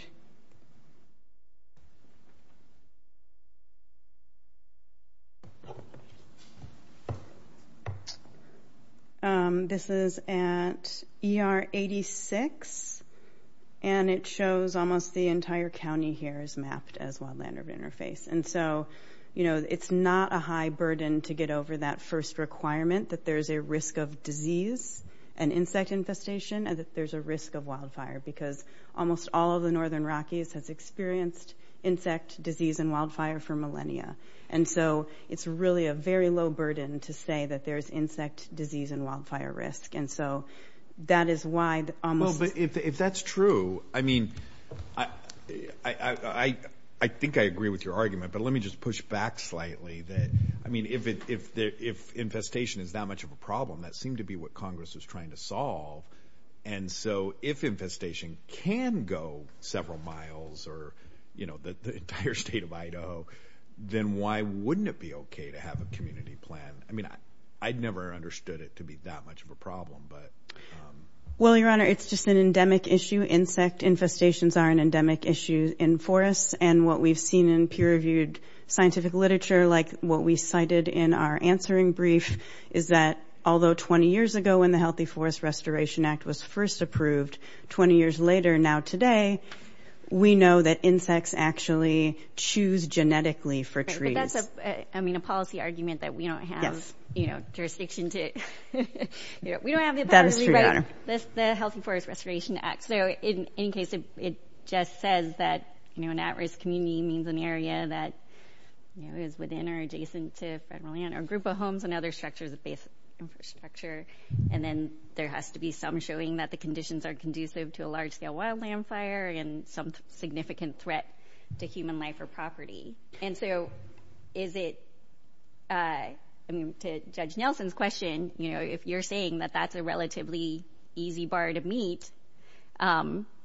This is at ER 86, and it shows almost the entire county here is mapped And so, you know, it's not a high burden to get over that first requirement, that there's a risk of disease and insect infestation, and that there's a risk of wildfire. Because almost all of the northern Rockies have experienced insect disease and wildfire for millennia. And so it's really a very low burden to say that there's insect disease and wildfire risk. And so that is why almost... Well, if that's true, I mean, I think I agree with your argument, but let me just push back slightly. I mean, if infestation is that much of a problem, that seemed to be what Congress was trying to solve. And so if infestation can go several miles or, you know, the entire state of Idaho, then why wouldn't it be okay to have a community plan? I mean, I'd never understood it to be that much of a problem, but... Well, Your Honor, it's just an endemic issue. Insect infestations are an endemic issue in forests. And what we've seen in peer-reviewed scientific literature, like what we cited in our answering brief, is that although 20 years ago, when the Healthy Forest Restoration Act was first approved, 20 years later now today, we know that insects actually choose genetically for trees. But that's a policy argument that we don't have jurisdiction to... We don't have the power to do that. The Healthy Forest Restoration Act. So in case it just says that, you know, an at-risk community means an area that is within or adjacent to federal land or group of homes and other structures of infrastructure, and then there has to be some showing that the conditions are conducive to a large-scale wildland fire and some significant threat to human life or property. And so is it... I mean, to Judge Nelson's question, you know, if you're saying that that's a relatively easy bar to meet,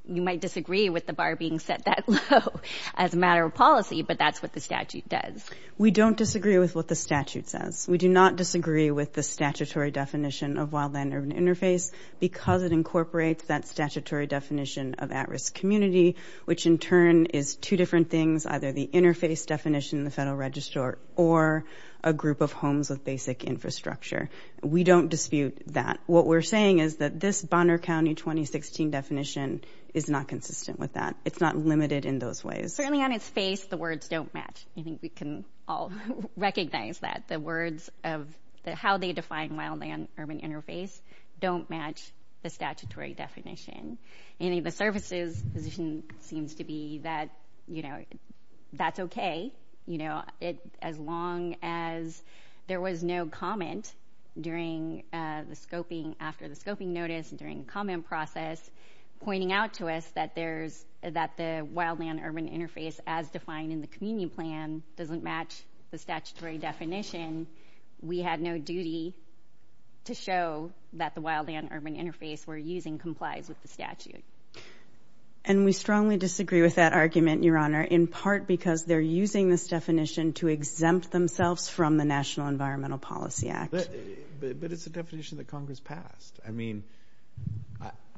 you might disagree with the bar being set that low as a matter of policy, but that's what the statute does. We don't disagree with what the statute says. We do not disagree with the statutory definition of wildland-urban interface because it incorporates that statutory definition of at-risk community, which in turn is two different things, either the interface definition in the Federal Register or a group of homes with basic infrastructure. We don't dispute that. What we're saying is that this Bonner County 2016 definition is not consistent with that. It's not limited in those ways. Certainly on its face, the words don't match. I think we can all recognize that. The words of how they define wildland-urban interface don't match the statutory definition. I think the services position seems to be that, you know, that's okay. As long as there was no comment during the scoping, after the scoping notice, during the comment process, pointing out to us that the wildland-urban interface as defined in the community plan doesn't match the statutory definition, we have no duty to show that the wildland-urban interface we're using complies with the statute. And we strongly disagree with that argument, Your Honor, in part because they're using this definition to exempt themselves from the National Environmental Policy Act. But it's a definition that Congress passed. I mean,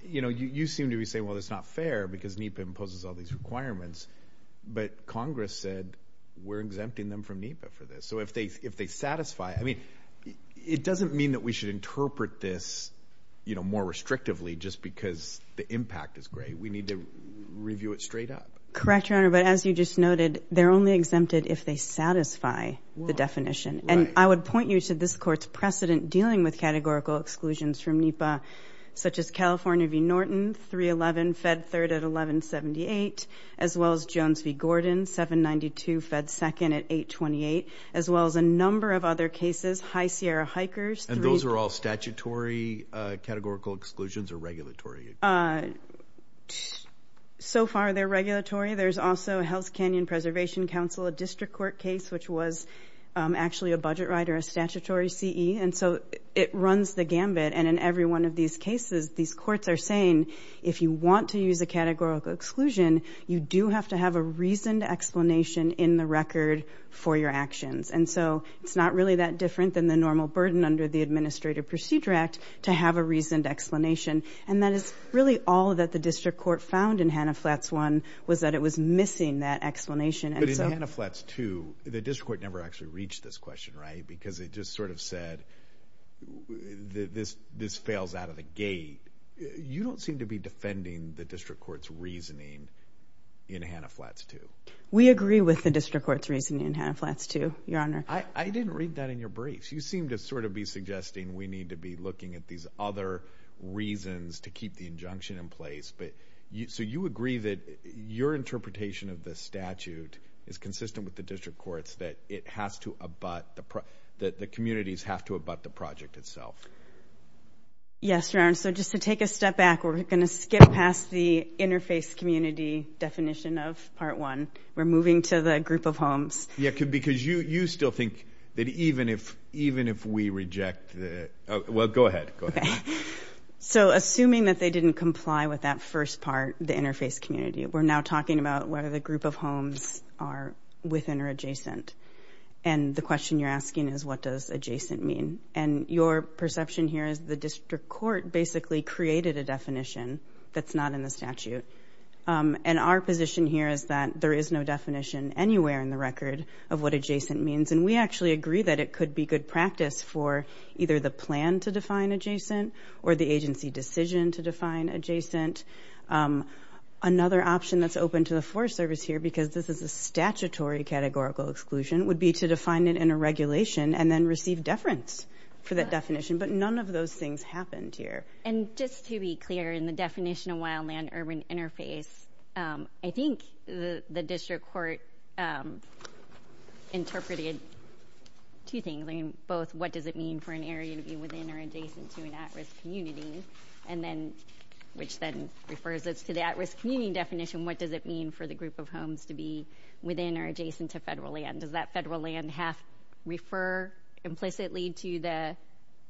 you know, you seem to be saying, well, it's not fair because NEPA imposes all these requirements, but Congress said we're exempting them from NEPA for this. So if they satisfy, I mean, it doesn't mean that we should interpret this, you know, more restrictively just because the impact is great. We need to review it straight up. Correct, Your Honor, but as you just noted, they're only exempted if they satisfy the definition. And I would point you to this Court's precedent dealing with categorical exclusions from NEPA, such as California v. Norton, 311, Fed 3rd at 1178, as well as Jones v. Gordon, 792, Fed 2nd at 828, as well as a number of other cases, High Sierra Hikers. And those are all statutory categorical exclusions or regulatory? So far they're regulatory. There's also Health Canyon Preservation Council, a district court case, which was actually a budget right or a statutory CE. And so it runs the gambit. And in every one of these cases, these courts are saying, if you want to use a categorical exclusion, you do have to have a reasoned explanation in the record for your actions. And so it's not really that different than the normal burden under the Administrative Procedure Act to have a reasoned explanation. And that is really all that the district court found in Hanna Flats 1 was that it was missing that explanation. But in Hanna Flats 2, the district court never actually reached this question, right? Because it just sort of said, this fails out of the gate. You don't seem to be defending the district court's reasoning in Hanna Flats 2. We agree with the district court's reasoning in Hanna Flats 2, Your Honor. I didn't read that in your briefs. You seem to sort of be suggesting we need to be looking at these other reasons to keep the injunction in place. So you agree that your interpretation of the statute is consistent with the district court's, that the communities have to abut the project itself? Yes, Your Honor. So just to take a step back, we're going to skip past the interface community definition of Part 1. We're moving to the group of homes. Yeah, because you still think that even if we reject the – well, go ahead. Okay. So assuming that they didn't comply with that first part, the interface community, we're now talking about whether the group of homes are within or adjacent. And the question you're asking is, what does adjacent mean? And your perception here is the district court basically created a definition that's not in the statute. And our position here is that there is no definition anywhere in the record of what adjacent means. And we actually agree that it could be good practice for either the plan to define adjacent or the agency decision to define adjacent. Another option that's open to the Forest Service here, because this is a statutory categorical exclusion, would be to define it in a regulation and then receive deference for that definition. But none of those things happened here. And just to be clear, in the definition of wildland urban interface, I think the district court interpreted two things, both what does it mean for an area to be within or adjacent to an at-risk community, which then refers us to the at-risk community definition. What does it mean for the group of homes to be within or adjacent to federal land? Does that federal land have to refer implicitly to the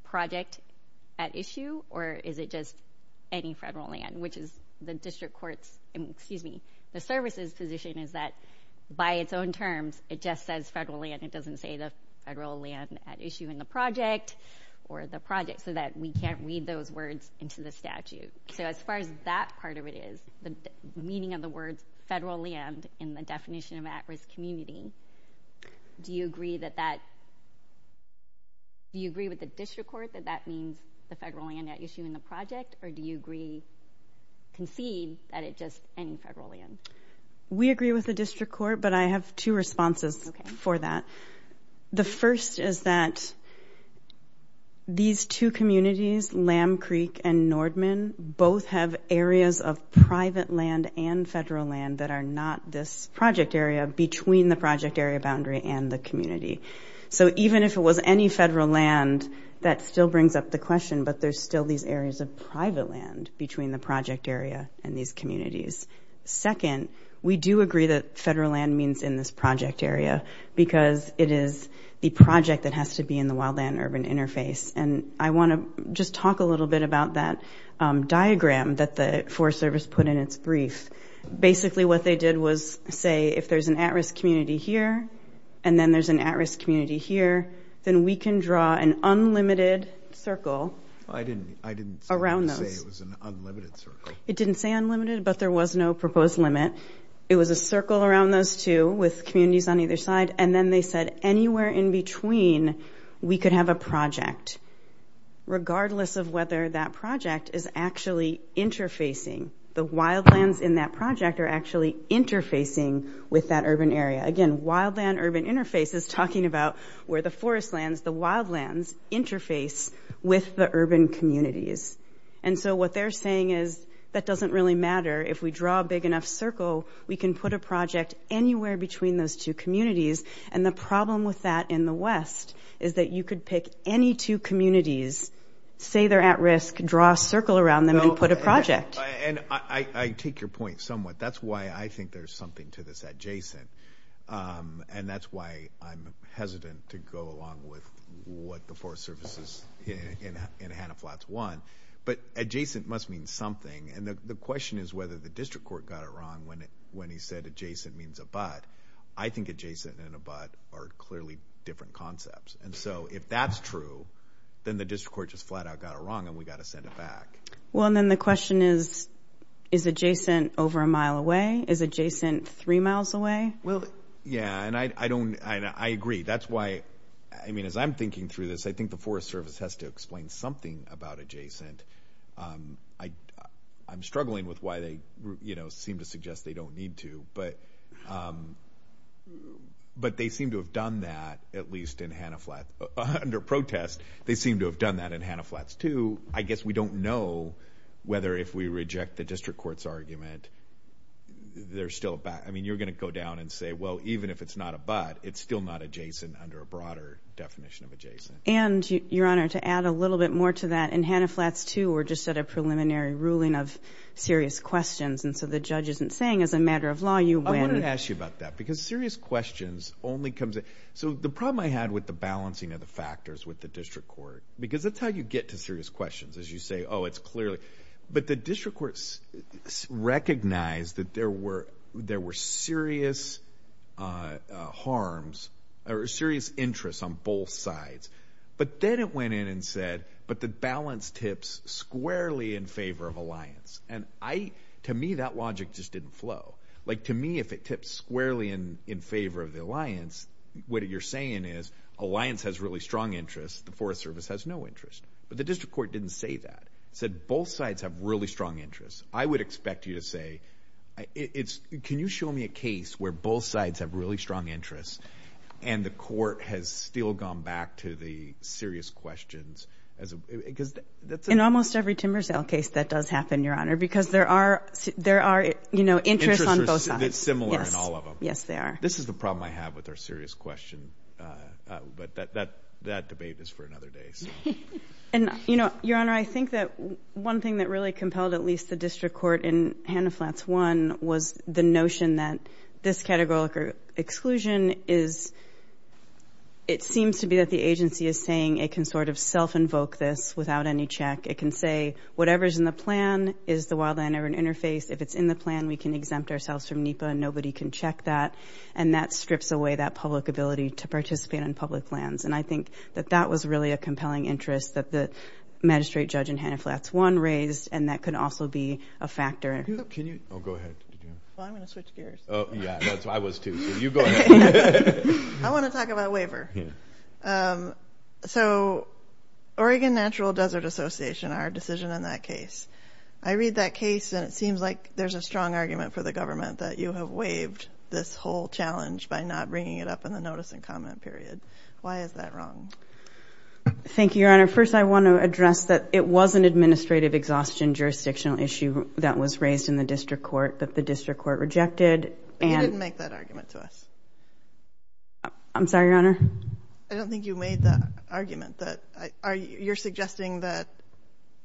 project at issue or is it just any federal land, which is the district court's, excuse me, the service's position is that by its own terms, it just says federal land. It doesn't say the federal land at issue in the project or the project so that we can't read those words into the statute. So as far as that part of it is, the meaning of the word federal land in the definition of at-risk community, do you agree that that, do you agree with the district court that that means the federal land at issue in the project or do you agree, concede that it's just any federal land? We agree with the district court, but I have two responses for that. The first is that these two communities, Lamb Creek and Nordman, both have areas of private land and federal land that are not this project area between the project area boundary and the community. So even if it was any federal land, that still brings up the question, but there's still these areas of private land between the project area and these communities. Second, we do agree that federal land means in this project area because it is the project that has to be in the wildland urban interface, and I want to just talk a little bit about that diagram that the Forest Service put in its brief. Basically what they did was say if there's an at-risk community here and then there's an at-risk community here, then we can draw an unlimited circle around those. I didn't say it was an unlimited circle. It didn't say unlimited, but there was no proposed limit. It was a circle around those two with communities on either side, and then they said anywhere in between we could have a project, regardless of whether that project is actually interfacing. The wildlands in that project are actually interfacing with that urban area. Again, wildland urban interface is talking about where the forest lands, the wildlands interface with the urban communities. So what they're saying is that doesn't really matter. If we draw a big enough circle, we can put a project anywhere between those two communities, and the problem with that in the West is that you could pick any two communities, say they're at risk, draw a circle around them and put a project. I take your point somewhat. That's why I think there's something to this adjacent, and that's why I'm hesitant to go along with what the forest services in Hannah Flats want. But adjacent must mean something, and the question is whether the district court got it wrong when he said adjacent means abut. I think adjacent and abut are clearly different concepts, and so if that's true, then the district court just flat out got it wrong and we've got to send it back. Well, then the question is, is adjacent over a mile away? Is adjacent three miles away? Yeah, and I agree. That's why, I mean, as I'm thinking through this, I think the Forest Service has to explain something about adjacent. I'm struggling with why they seem to suggest they don't need to, but they seem to have done that at least in Hannah Flats. Under protest, they seem to have done that in Hannah Flats too. So I guess we don't know whether if we reject the district court's argument, they're still abut. I mean, you're going to go down and say, well, even if it's not abut, it's still not adjacent under a broader definition of adjacent. And, Your Honor, to add a little bit more to that, in Hannah Flats too we're just at a preliminary ruling of serious questions, and so the judge isn't saying as a matter of law you win. I wanted to ask you about that because serious questions only comes in. So the problem I had with the balancing of the factors with the district court, because that's how you get to serious questions is you say, oh, it's clearly. But the district court recognized that there were serious harms or serious interests on both sides. But then it went in and said, but the balance tips squarely in favor of alliance. And to me that logic just didn't flow. Like to me if it tips squarely in favor of the alliance, what you're saying is alliance has really strong interests, the Forest Service has no interest. But the district court didn't say that. It said both sides have really strong interests. I would expect you to say, can you show me a case where both sides have really strong interests and the court has still gone back to the serious questions? In almost every Timberdale case that does happen, Your Honor, because there are interests on both sides. Interests are similar in all of them. Yes, they are. This is the problem I have with our serious questions. But that debate is for another day. And, Your Honor, I think that one thing that really compelled at least the district court in Hannah-Flats One was the notion that this categorical exclusion is, it seems to be that the agency is saying it can sort of self-invoke this without any check. It can say whatever is in the plan is the wildland or an interface. If it's in the plan, we can exempt ourselves from NEPA and nobody can check that. And that strips away that public ability to participate in public lands. And I think that that was really a compelling interest that the magistrate judge in Hannah-Flats One raised and that could also be a factor. Can you? Oh, go ahead. Well, I'm going to switch gears. Oh, yeah. I was too. You go ahead. I want to talk about waiver. So Oregon Natural Desert Association, our decision in that case, I read that case and it seems like there's a strong argument for the government that you have waived this whole challenge by not bringing it up in the notice and comment period. Why is that wrong? Thank you, Your Honor. First, I want to address that it was an administrative exhaustion jurisdictional issue that was raised in the district court that the district court rejected. You didn't make that argument to us. I'm sorry, Your Honor. I don't think you made that argument. You're suggesting that,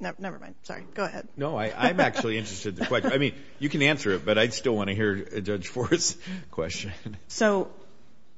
never mind. Sorry. Go ahead. No, I'm actually interested in the question. I mean, you can answer it, but I still want to hear Judge Forrest's question. So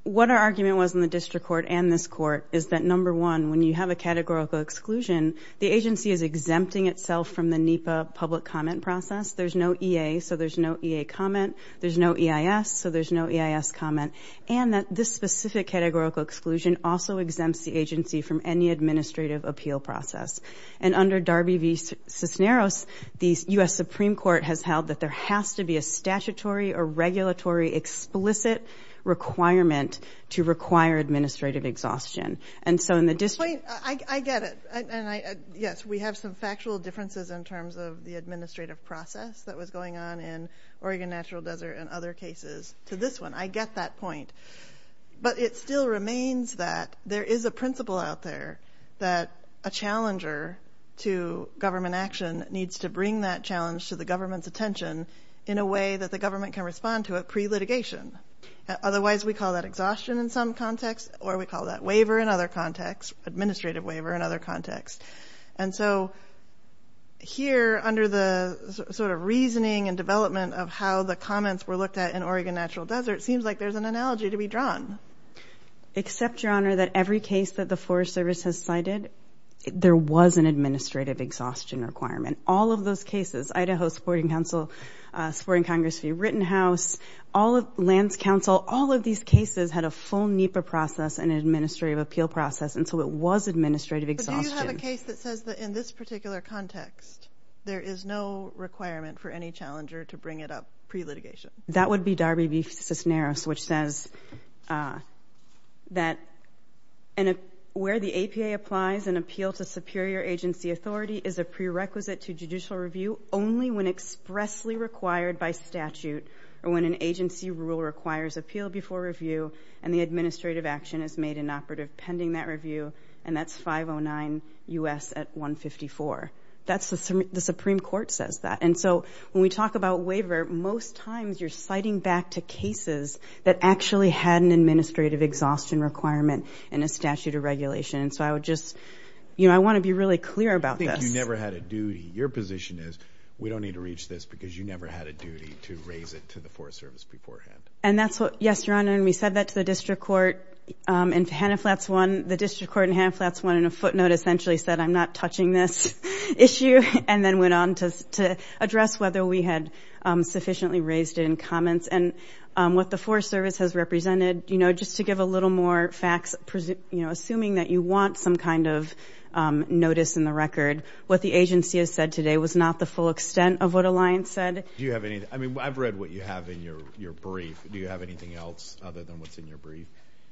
what our argument was in the district court and this court is that, number one, when you have a categorical exclusion, the agency is exempting itself from the NEPA public comment process. There's no EA, so there's no EA comment. There's no EIS, so there's no EIS comment. And this specific categorical exclusion also exempts the agency from any administrative appeal process. And under Darby v. Cisneros, the U.S. Supreme Court has held that there has to be a statutory or regulatory explicit requirement to require administrative exhaustion. And so in the district – I get it, and yes, we have some factual differences in terms of the administrative process that was going on in Oregon Natural Desert and other cases to this one. I get that point. But it still remains that there is a principle out there that a challenger to government action needs to bring that challenge to the government's attention in a way that the government can respond to it pre-litigation. Otherwise, we call that exhaustion in some contexts, or we call that waiver in other contexts, administrative waiver in other contexts. And so here, under the sort of reasoning and development of how the comments were looked at in Oregon Natural Desert, it seems like there's an analogy to be drawn. Except, Your Honor, that every case that the Forest Service has cited, there was an administrative exhaustion requirement. All of those cases – Idaho Sporting Council, Sporting Congress v. Rittenhouse, all of – Lands Council – all of these cases had a full NEPA process and an administrative appeal process, and so it was administrative exhaustion. But do you have a case that says that in this particular context, there is no requirement for any challenger to bring it up pre-litigation? That would be Darby v. Fisneris, which says that where the APA applies an appeal to superior agency authority is a prerequisite to judicial review only when expressly required by statute or when an agency rule requires appeal before review and the administrative action is made inoperative pending that review, and that's 509 U.S. 154. That's – the Supreme Court says that. And so when we talk about waiver, most times you're citing back to cases that actually had an administrative exhaustion requirement in a statute or regulation. And so I would just – you know, I want to be really clear about that. I think you never had a duty. Your position is we don't need to reach this because you never had a duty to raise it to the Forest Service beforehand. And that's what – yes, Your Honor, and we said that to the district court, and to Hannah Flats one – the district court and Hannah Flats one in a footnote essentially said I'm not touching this issue and then went on to address whether we had sufficiently raised it in comments. And what the Forest Service has represented, you know, just to give a little more facts, you know, assuming that you want some kind of notice in the record, what the agency has said today was not the full extent of what Alliance said. Do you have any – I mean, I've read what you have in your brief. Do you have anything else other than what's in your brief?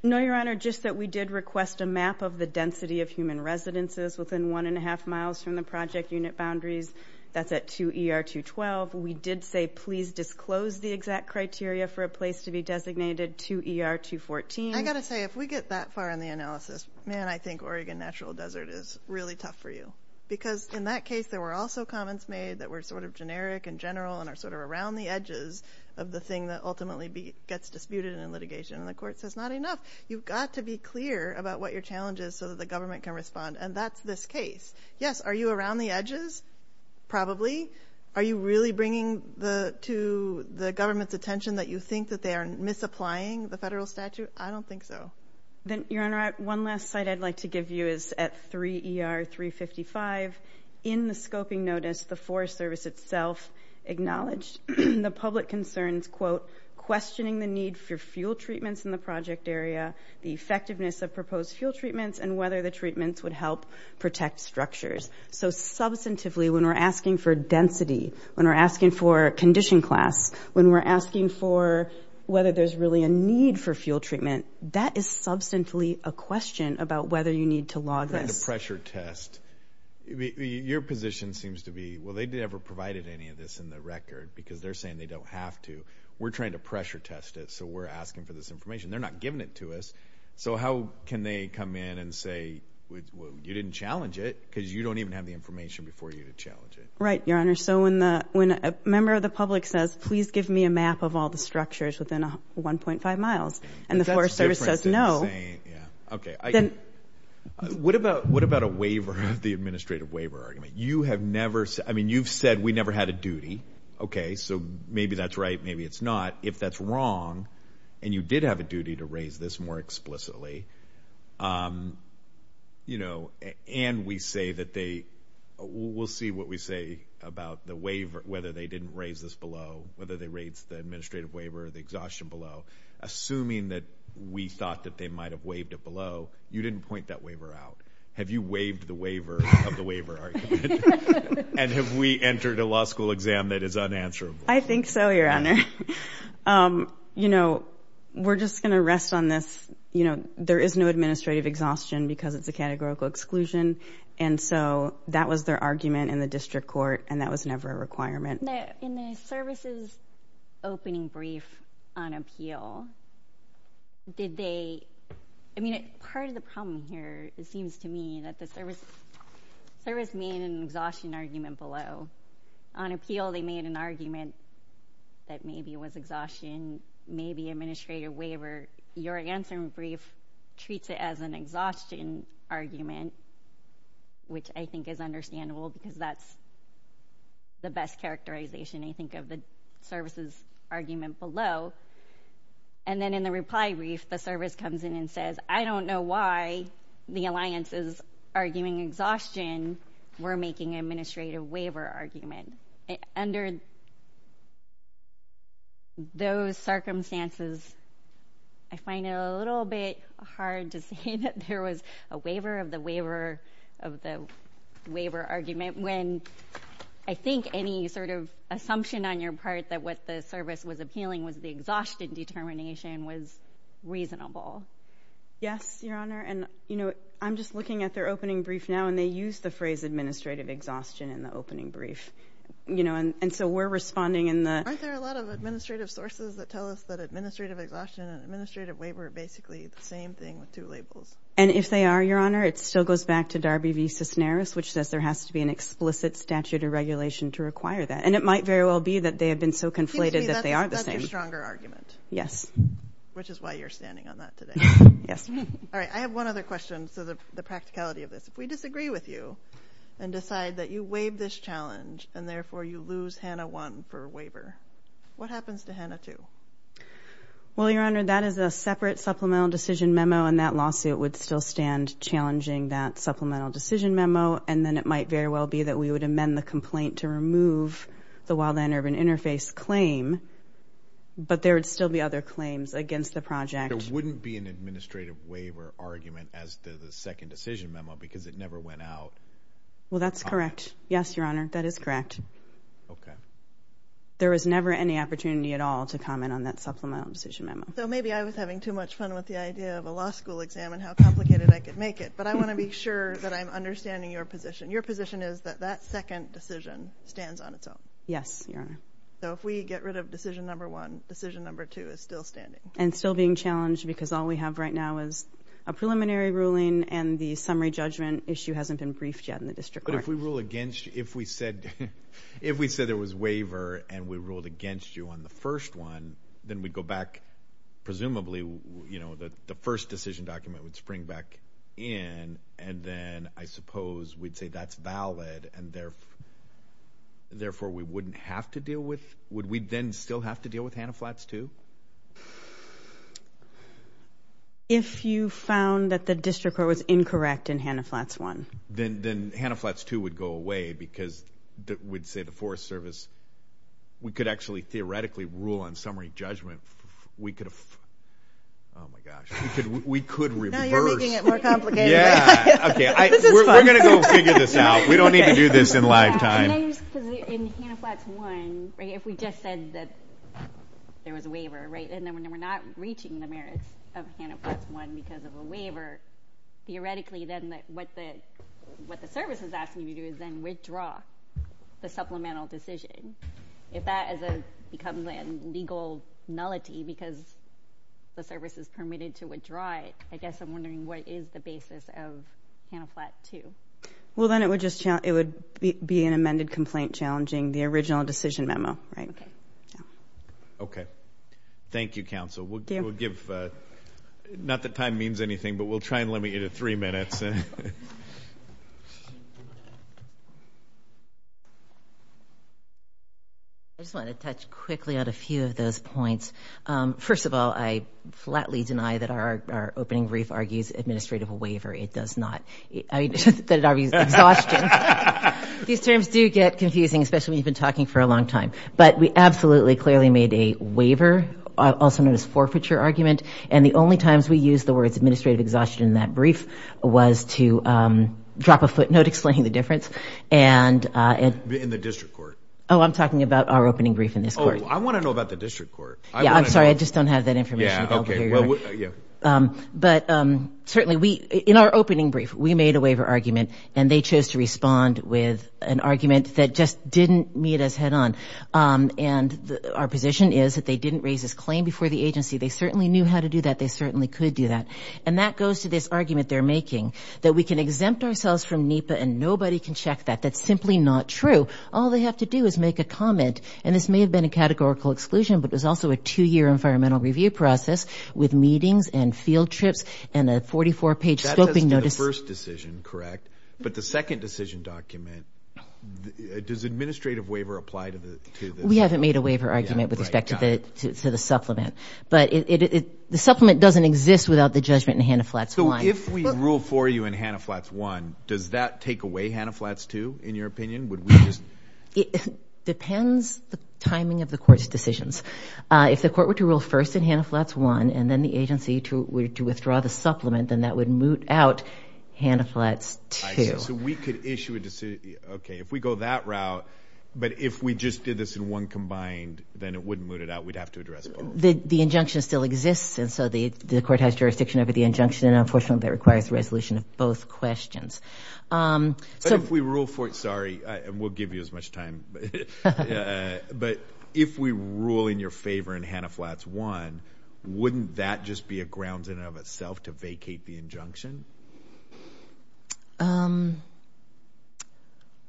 No, Your Honor, just that we did request a map of the density of human residences within one and a half miles from the project unit boundaries. That's at 2ER212. We did say please disclose the exact criteria for a place to be designated, 2ER214. I've got to say, if we get that far in the analysis, man, I think Oregon Natural Desert is really tough for you because in that case there were also comments made that were sort of generic and general and are sort of around the edges of the thing that ultimately gets disputed in litigation. And the court says not enough. You've got to be clear about what your challenge is so that the government can respond. And that's this case. Yes, are you around the edges? Probably. Are you really bringing to the government's attention that you think that they are misapplying the federal statute? I don't think so. Then, Your Honor, one last site I'd like to give you is at 3ER355. In the scoping notice, the Forest Service itself acknowledged the public concerns, quote, questioning the need for fuel treatments in the project area, the effectiveness of proposed fuel treatments, and whether the treatments would help protect structures. So substantively, when we're asking for density, when we're asking for condition class, when we're asking for whether there's really a need for fuel treatment, that is substantively a question about whether you need to log this. We're trying to pressure test. Your position seems to be, well, they never provided any of this in the record because they're saying they don't have to. We're trying to pressure test it, so we're asking for this information. They're not giving it to us. So how can they come in and say, well, you didn't challenge it because you don't even have the information before you to challenge it. Right, Your Honor. So when a member of the public says, please give me a map of all the structures within 1.5 miles, and the Forest Service says no. Okay. What about a waiver, the administrative waiver? You have never said, I mean, you've said we never had a duty. Okay, so maybe that's right, maybe it's not. If that's wrong, and you did have a duty to raise this more explicitly, and we say that they will see what we say about the waiver, whether they didn't raise this below, whether they raised the administrative waiver, the exhaustion below. Assuming that we thought that they might have waived it below, you didn't point that waiver out. Have you waived the waiver of the waiver argument? And have we entered a law school exam that is unanswerable? I think so, Your Honor. You know, we're just going to rest on this. You know, there is no administrative exhaustion because of the categorical exclusion, and so that was their argument in the district court, and that was never a requirement. In the services opening brief on appeal, did they – I mean, part of the problem here, it seems to me, that the service made an exhaustion argument below. On appeal, they made an argument that maybe it was exhaustion, maybe administrative waiver. Your answer in brief treats it as an exhaustion argument, which I think is understandable because that's the best characterization, I think, of the services argument below. And then in the reply brief, the service comes in and says, I don't know why the alliance is arguing exhaustion. We're making an administrative waiver argument. Under those circumstances, I find it a little bit hard to say that there was a waiver of the waiver argument when I think any sort of assumption on your part that what the service was appealing was the exhaustion determination was reasonable. Yes, Your Honor, and, you know, I'm just looking at their opening brief now, and they use the phrase administrative exhaustion in the opening brief, you know, and so we're responding in the – Aren't there a lot of administrative sources that tell us that administrative exhaustion and administrative waiver are basically the same thing with two labels? And if they are, Your Honor, it still goes back to Darby v. Cisneros, which says there has to be an explicit statute or regulation to require that, and it might very well be that they have been so conflated that they are the same. That's a stronger argument. Yes. Which is why you're standing on that today. Yes. All right, I have one other question for the practicality of this. If we disagree with you and decide that you waive this challenge and therefore you lose HANA 1 for a waiver, what happens to HANA 2? Well, Your Honor, that is a separate supplemental decision memo, and that lawsuit would still stand challenging that supplemental decision memo, and then it might very well be that we would amend the complaint to remove the Wildland Urban Interface claim, but there would still be other claims against the project. There wouldn't be an administrative waiver argument as to the second decision memo because it never went out. Well, that's correct. Yes, Your Honor, that is correct. Okay. There was never any opportunity at all to comment on that supplemental decision memo. So maybe I was having too much fun with the idea of a law school exam and how complicated I could make it, but I want to be sure that I'm understanding your position. Your position is that that second decision stands on its own. Yes, Your Honor. So if we get rid of decision number one, decision number two is still standing. And still being challenged because all we have right now is a preliminary ruling and the summary judgment issue hasn't been briefed yet in the district court. But if we rule against you, if we said there was waiver and we ruled against you on the first one, then we'd go back presumably, you know, the first decision document would spring back in and then I suppose we'd say that's valid and therefore we wouldn't have to deal with, would we then still have to deal with Hanna Flats 2? If you found that the district court was incorrect in Hanna Flats 1. Then Hanna Flats 2 would go away because we'd say the Forest Service, we could actually theoretically rule on summary judgment. We could have, oh my gosh, we could reverse. Now you're making it more complicated. Yeah, okay. We're going to go figure this out. We don't need to do this in live time. In Hanna Flats 1, if we just said that there was a waiver, right, and then we're not reaching the merits of Hanna Flats 1 because of a waiver, theoretically then what the service is asking you to do is then withdraw the supplemental decision. If that becomes a legal malady because the service is permitted to withdraw it, I guess I'm wondering what is the basis of Hanna Flats 2? Well, then it would be an amended complaint challenging the original decision memo, right? Okay. Thank you, counsel. Not that time means anything, but we'll try and limit it to three minutes. I just want to touch quickly on a few of those points. First of all, I flatly deny that our opening brief argues administrative waiver. It does not. I said it out of exhaustion. These terms do get confusing, especially when you've been talking for a long time. But we absolutely clearly made a waiver, also known as forfeiture argument, and the only times we used the words administrative exhaustion in that brief was to drop a footnote explaining the difference. In the district court. Oh, I'm talking about our opening brief in this case. Oh, I want to know about the district court. Yeah, I'm sorry. I just don't have that information. But certainly, in our opening brief, we made a waiver argument, and they chose to respond with an argument that just didn't meet us head on. And our position is that they didn't raise this claim before the agency. They certainly knew how to do that. They certainly could do that. And that goes to this argument they're making, that we can exempt ourselves from NEPA and nobody can check that. That's simply not true. All they have to do is make a comment. And this may have been a categorical exclusion, but there's also a two-year environmental review process with meetings and field trips and a 44-page scoping notice. That's the first decision, correct? But the second decision document, does administrative waiver apply to this? We haven't made a waiver argument with respect to the supplement. But the supplement doesn't exist without the judgment in Hanna Flats I. So if we rule for you in Hanna Flats I, does that take away Hanna Flats II, in your opinion? It depends the timing of the court's decisions. If the court were to rule first in Hanna Flats I and then the agency to withdraw the supplement, then that would moot out Hanna Flats II. So we could issue a decision, okay, if we go that route, but if we just did this in one combined, then it wouldn't moot it out. We'd have to address both. The injunction still exists. And so the court has jurisdiction over the injunction, and unfortunately that requires a resolution of both questions. But if we rule for it, sorry, and we'll give you as much time, but if we rule in your favor in Hanna Flats I, wouldn't that just be a grounds in and of itself to vacate the injunction?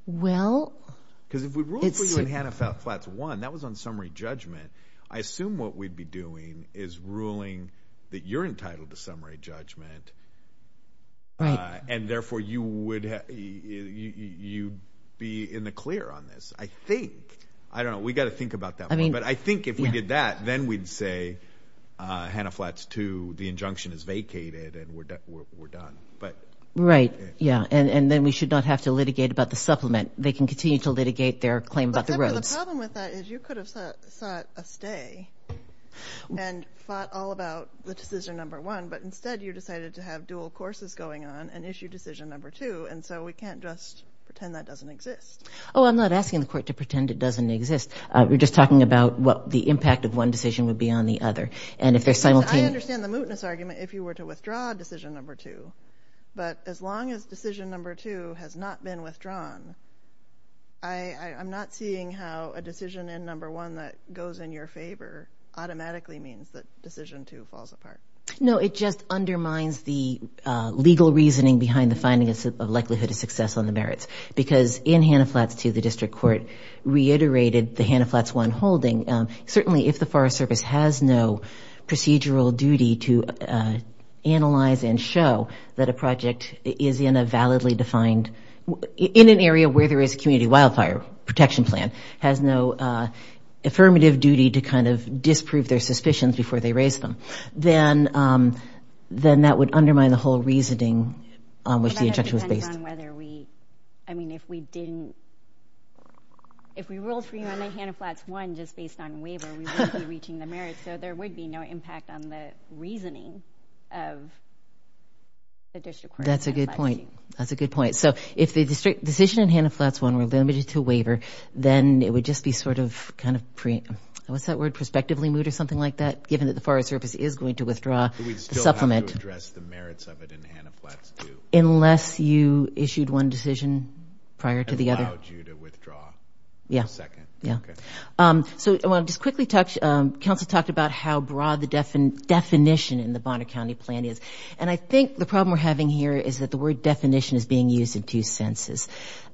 Because if we ruled for you in Hanna Flats I, that was on summary judgment, I assume what we'd be doing is ruling that you're entitled to summary judgment and therefore you would be in the clear on this, I think. I don't know. We've got to think about that more. But I think if we did that, then we'd say Hanna Flats II, the injunction is vacated and we're done. Right, yeah, and then we should not have to litigate about the supplement. They can continue to litigate their claim about the roads. But the problem with that is you could have sought a stay and thought all about the decision number one, but instead you decided to have dual courses going on and issue decision number two, and so we can't just pretend that doesn't exist. Oh, I'm not asking the court to pretend it doesn't exist. We're just talking about what the impact of one decision would be on the other. I understand the mootness argument if you were to withdraw decision number two, but as long as decision number two has not been withdrawn, I'm not seeing how a decision in number one that goes in your favor automatically means that decision two falls apart. No, it just undermines the legal reasoning behind the finding of likelihood of success on the merits because in Hanna Flats II, the district court reiterated the Hanna Flats I holding. Certainly if the Forest Service has no procedural duty to analyze and show that a project is in a validly defined, in an area where there is a community wildfire protection plan, has no affirmative duty to kind of disprove their suspicions before they raise them, then that would undermine the whole reasoning on which the objection was based. It kind of depends on whether we – I mean, if we didn't – if we ruled Hanna Flats I just based on waiver, we wouldn't be reaching the merits, so there would be no impact on the reasoning of the district court. That's a good point. That's a good point. So if the decision in Hanna Flats I were limited to waiver, then it would just be sort of kind of – what's that word? Prospectively moved or something like that, given that the Forest Service is going to withdraw the supplement. We still have to address the merits of it in Hanna Flats II. Unless you issued one decision prior to the other. And allowed you to withdraw for a second. Yeah. Yeah. Okay. So I want to just quickly touch – Kelsey talked about how broad the definition in the Bonner County plan is, and I think the problem we're having here is that the word definition is being used in two senses.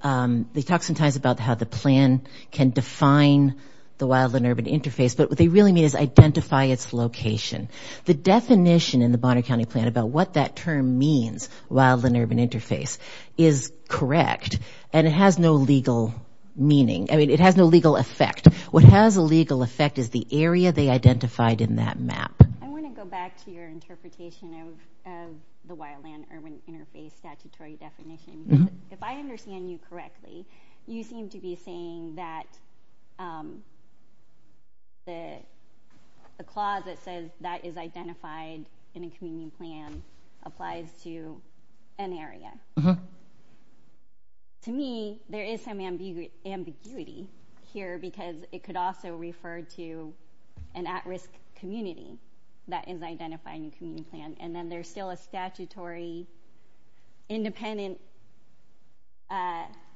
They talk sometimes about how the plan can define the wildland-urban interface, but what they really mean is identify its location. The definition in the Bonner County plan about what that term means, wildland-urban interface, is correct, and it has no legal meaning. I mean, it has no legal effect. What has a legal effect is the area they identified in that map. I want to go back to your interpretation of the wildland-urban interface statutory definition. If I understand you correctly, you seem to be saying that the clause that says that is identified in a community plan applies to an area. Uh-huh. To me, there is some ambiguity here because it could also refer to an at-risk community that is identified in a community plan, and then there's still a statutory independent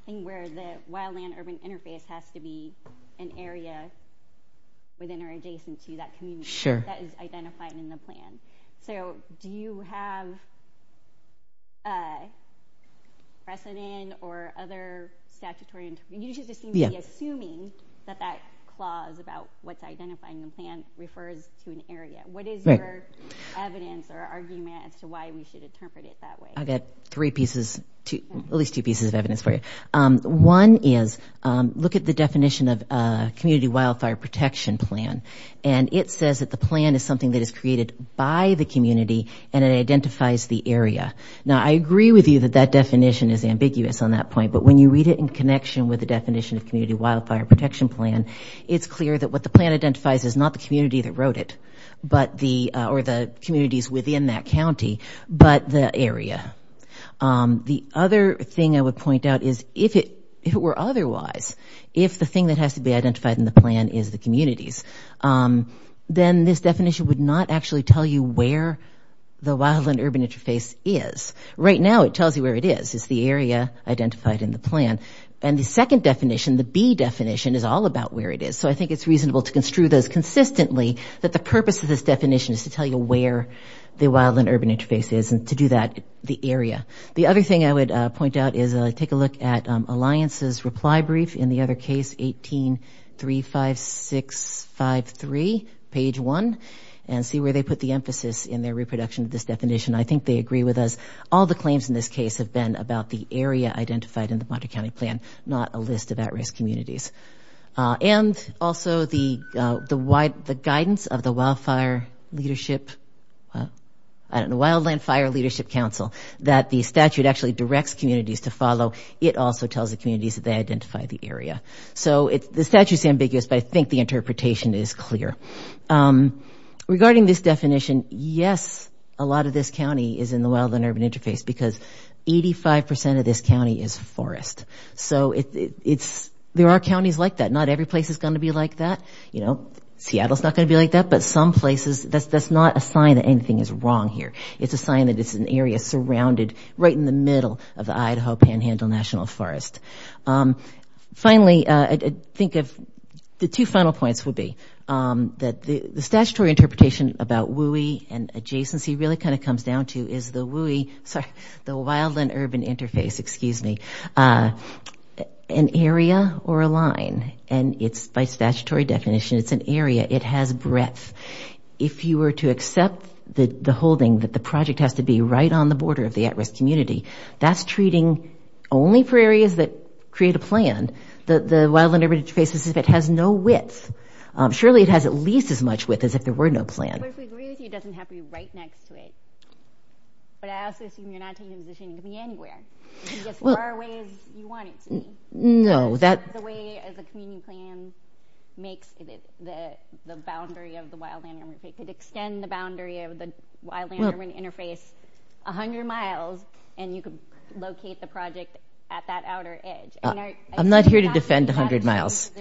thing where the wildland-urban interface has to be an area within or adjacent to that community that is identified in the plan. So do you have precedent or other statutory? You seem to be assuming that that clause about what's identified in the plan refers to an area. What is your evidence or argument as to why we should interpret it that way? I've got at least two pieces of evidence for you. One is look at the definition of community wildfire protection plan, and it says that the plan is something that is created by the community and it identifies the area. Now, I agree with you that that definition is ambiguous on that point, but when you read it in connection with the definition of community wildfire protection plan, it's clear that what the plan identifies is not the community that wrote it, or the communities within that county, but the area. The other thing I would point out is if it were otherwise, if the thing that has to be identified in the plan is the communities, then this definition would not actually tell you where the wildland-urban interface is. Right now it tells you where it is. It's the area identified in the plan. And the second definition, the B definition, is all about where it is. So I think it's reasonable to construe those consistently, that the purpose of this definition is to tell you where the wildland-urban interface is and to do that, the area. The other thing I would point out is take a look at Alliance's reply brief, in the other case, 1835653, page 1, and see where they put the emphasis in their reproduction of this definition. I think they agree with us. All the claims in this case have been about the area identified in the Bontra County plan, not a list of at-risk communities. And also the guidance of the Wildland Fire Leadership Council, that the statute actually directs communities to follow. It also tells the communities that they identify the area. So the statute is ambiguous, but I think the interpretation is clear. Regarding this definition, yes, a lot of this county is in the wildland-urban interface because 85% of this county is forest. So there are counties like that. Not every place is going to be like that. You know, Seattle is not going to be like that, but some places, that's not a sign that anything is wrong here. It's a sign that it's an area surrounded right in the middle of the Idaho Panhandle National Forest. Finally, I think the two final points would be that the statutory interpretation about WUI and adjacency really kind of comes down to is the WUI, the wildland-urban interface, excuse me, an area or a line. And it's, by statutory definition, it's an area. It has breadth. If you were to accept the holding that the project has to be right on the border of the at-risk community, that's treating only for areas that create a plan. The wildland-urban interface has no width. Surely it has at least as much width as if there were no plan. So if we agree with you, it doesn't have to be right next to it. But I also assume you're not taking the decision to be anywhere. It's as far away as you want it to be. No. That's the way as a community plan makes the boundary of the wildland-urban interface. It could extend the boundary of the wildland-urban interface 100 miles and you could locate the project at that outer edge. I'm not here to defend 100 miles.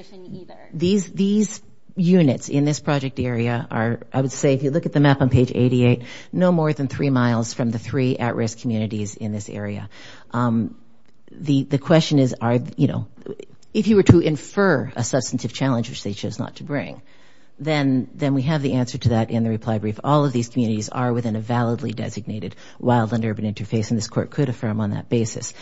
These units in this project area are, I would say, if you look at the map on page 88, no more than three miles from the three at-risk communities in this area. The question is, if you were to infer a substantive challenge which they chose not to bring, then we have the answer to that in the reply brief. All of these communities are within a validly designated wildland-urban interface and this court could affirm on that basis.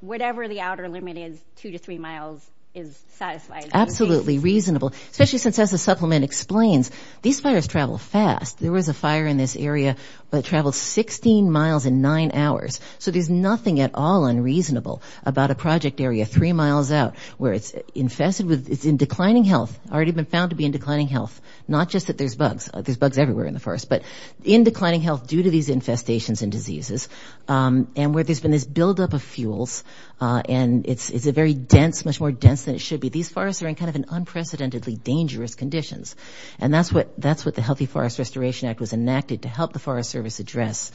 Whatever the outer limit is, two to three miles is satisfied. Absolutely reasonable. Especially since as the supplement explains, these fires travel fast. There was a fire in this area that traveled 16 miles in nine hours. So there's nothing at all unreasonable about a project area three miles out where it's in declining health, already been found to be in declining health. Not just that there's bugs. There's bugs everywhere in the forest. But in declining health due to these infestations and diseases and where there's been this buildup of fuels and it's a very dense, much more dense than it should be. These forests are in kind of an unprecedentedly dangerous conditions. And that's what the Healthy Forest Restoration Act was enacted to help the Forest Service address.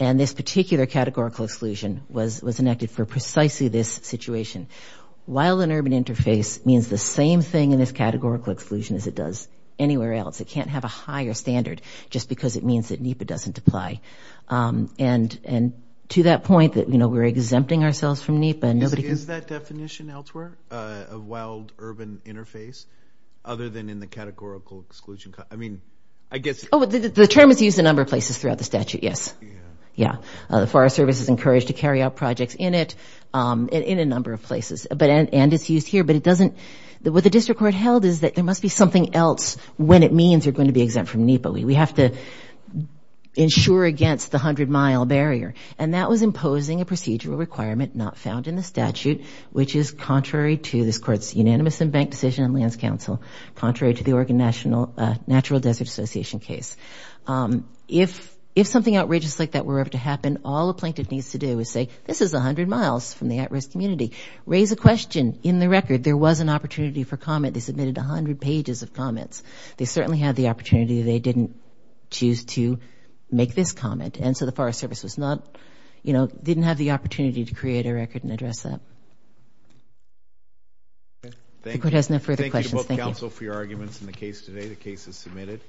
And this particular categorical exclusion was enacted for precisely this situation. Wildland-urban interface means the same thing in this categorical exclusion as it does anywhere else. It can't have a higher standard just because it means that NEPA doesn't apply. And to that point that we're exempting ourselves from NEPA. Is that definition elsewhere of wild-urban interface other than in the categorical exclusion? I mean, I guess. Oh, the term is used a number of places throughout the statute, yes. Yeah. The Forest Service is encouraged to carry out projects in it in a number of places. And it's used here. But it doesn't, what the district court held is that there must be something else when it means you're going to be exempt from NEPA. We have to ensure against the 100-mile barrier. And that was imposing a procedural requirement not found in the statute, which is contrary to this court's unanimous and bank decision in lands council, contrary to the Oregon National Natural Desert Association case. If something outrageous like that were ever to happen, all a plaintiff needs to do is say, this is 100 miles from the at-risk community. Raise a question. In the record, there was an opportunity for comment. They submitted 100 pages of comments. They certainly had the opportunity. They didn't choose to make this comment. And so the Forest Service is not, you know, didn't have the opportunity to create a record and address that. Okay. Thank you. If the court has no further questions, thank you. Thank you to both counsel for your arguments in the case today. The case is submitted.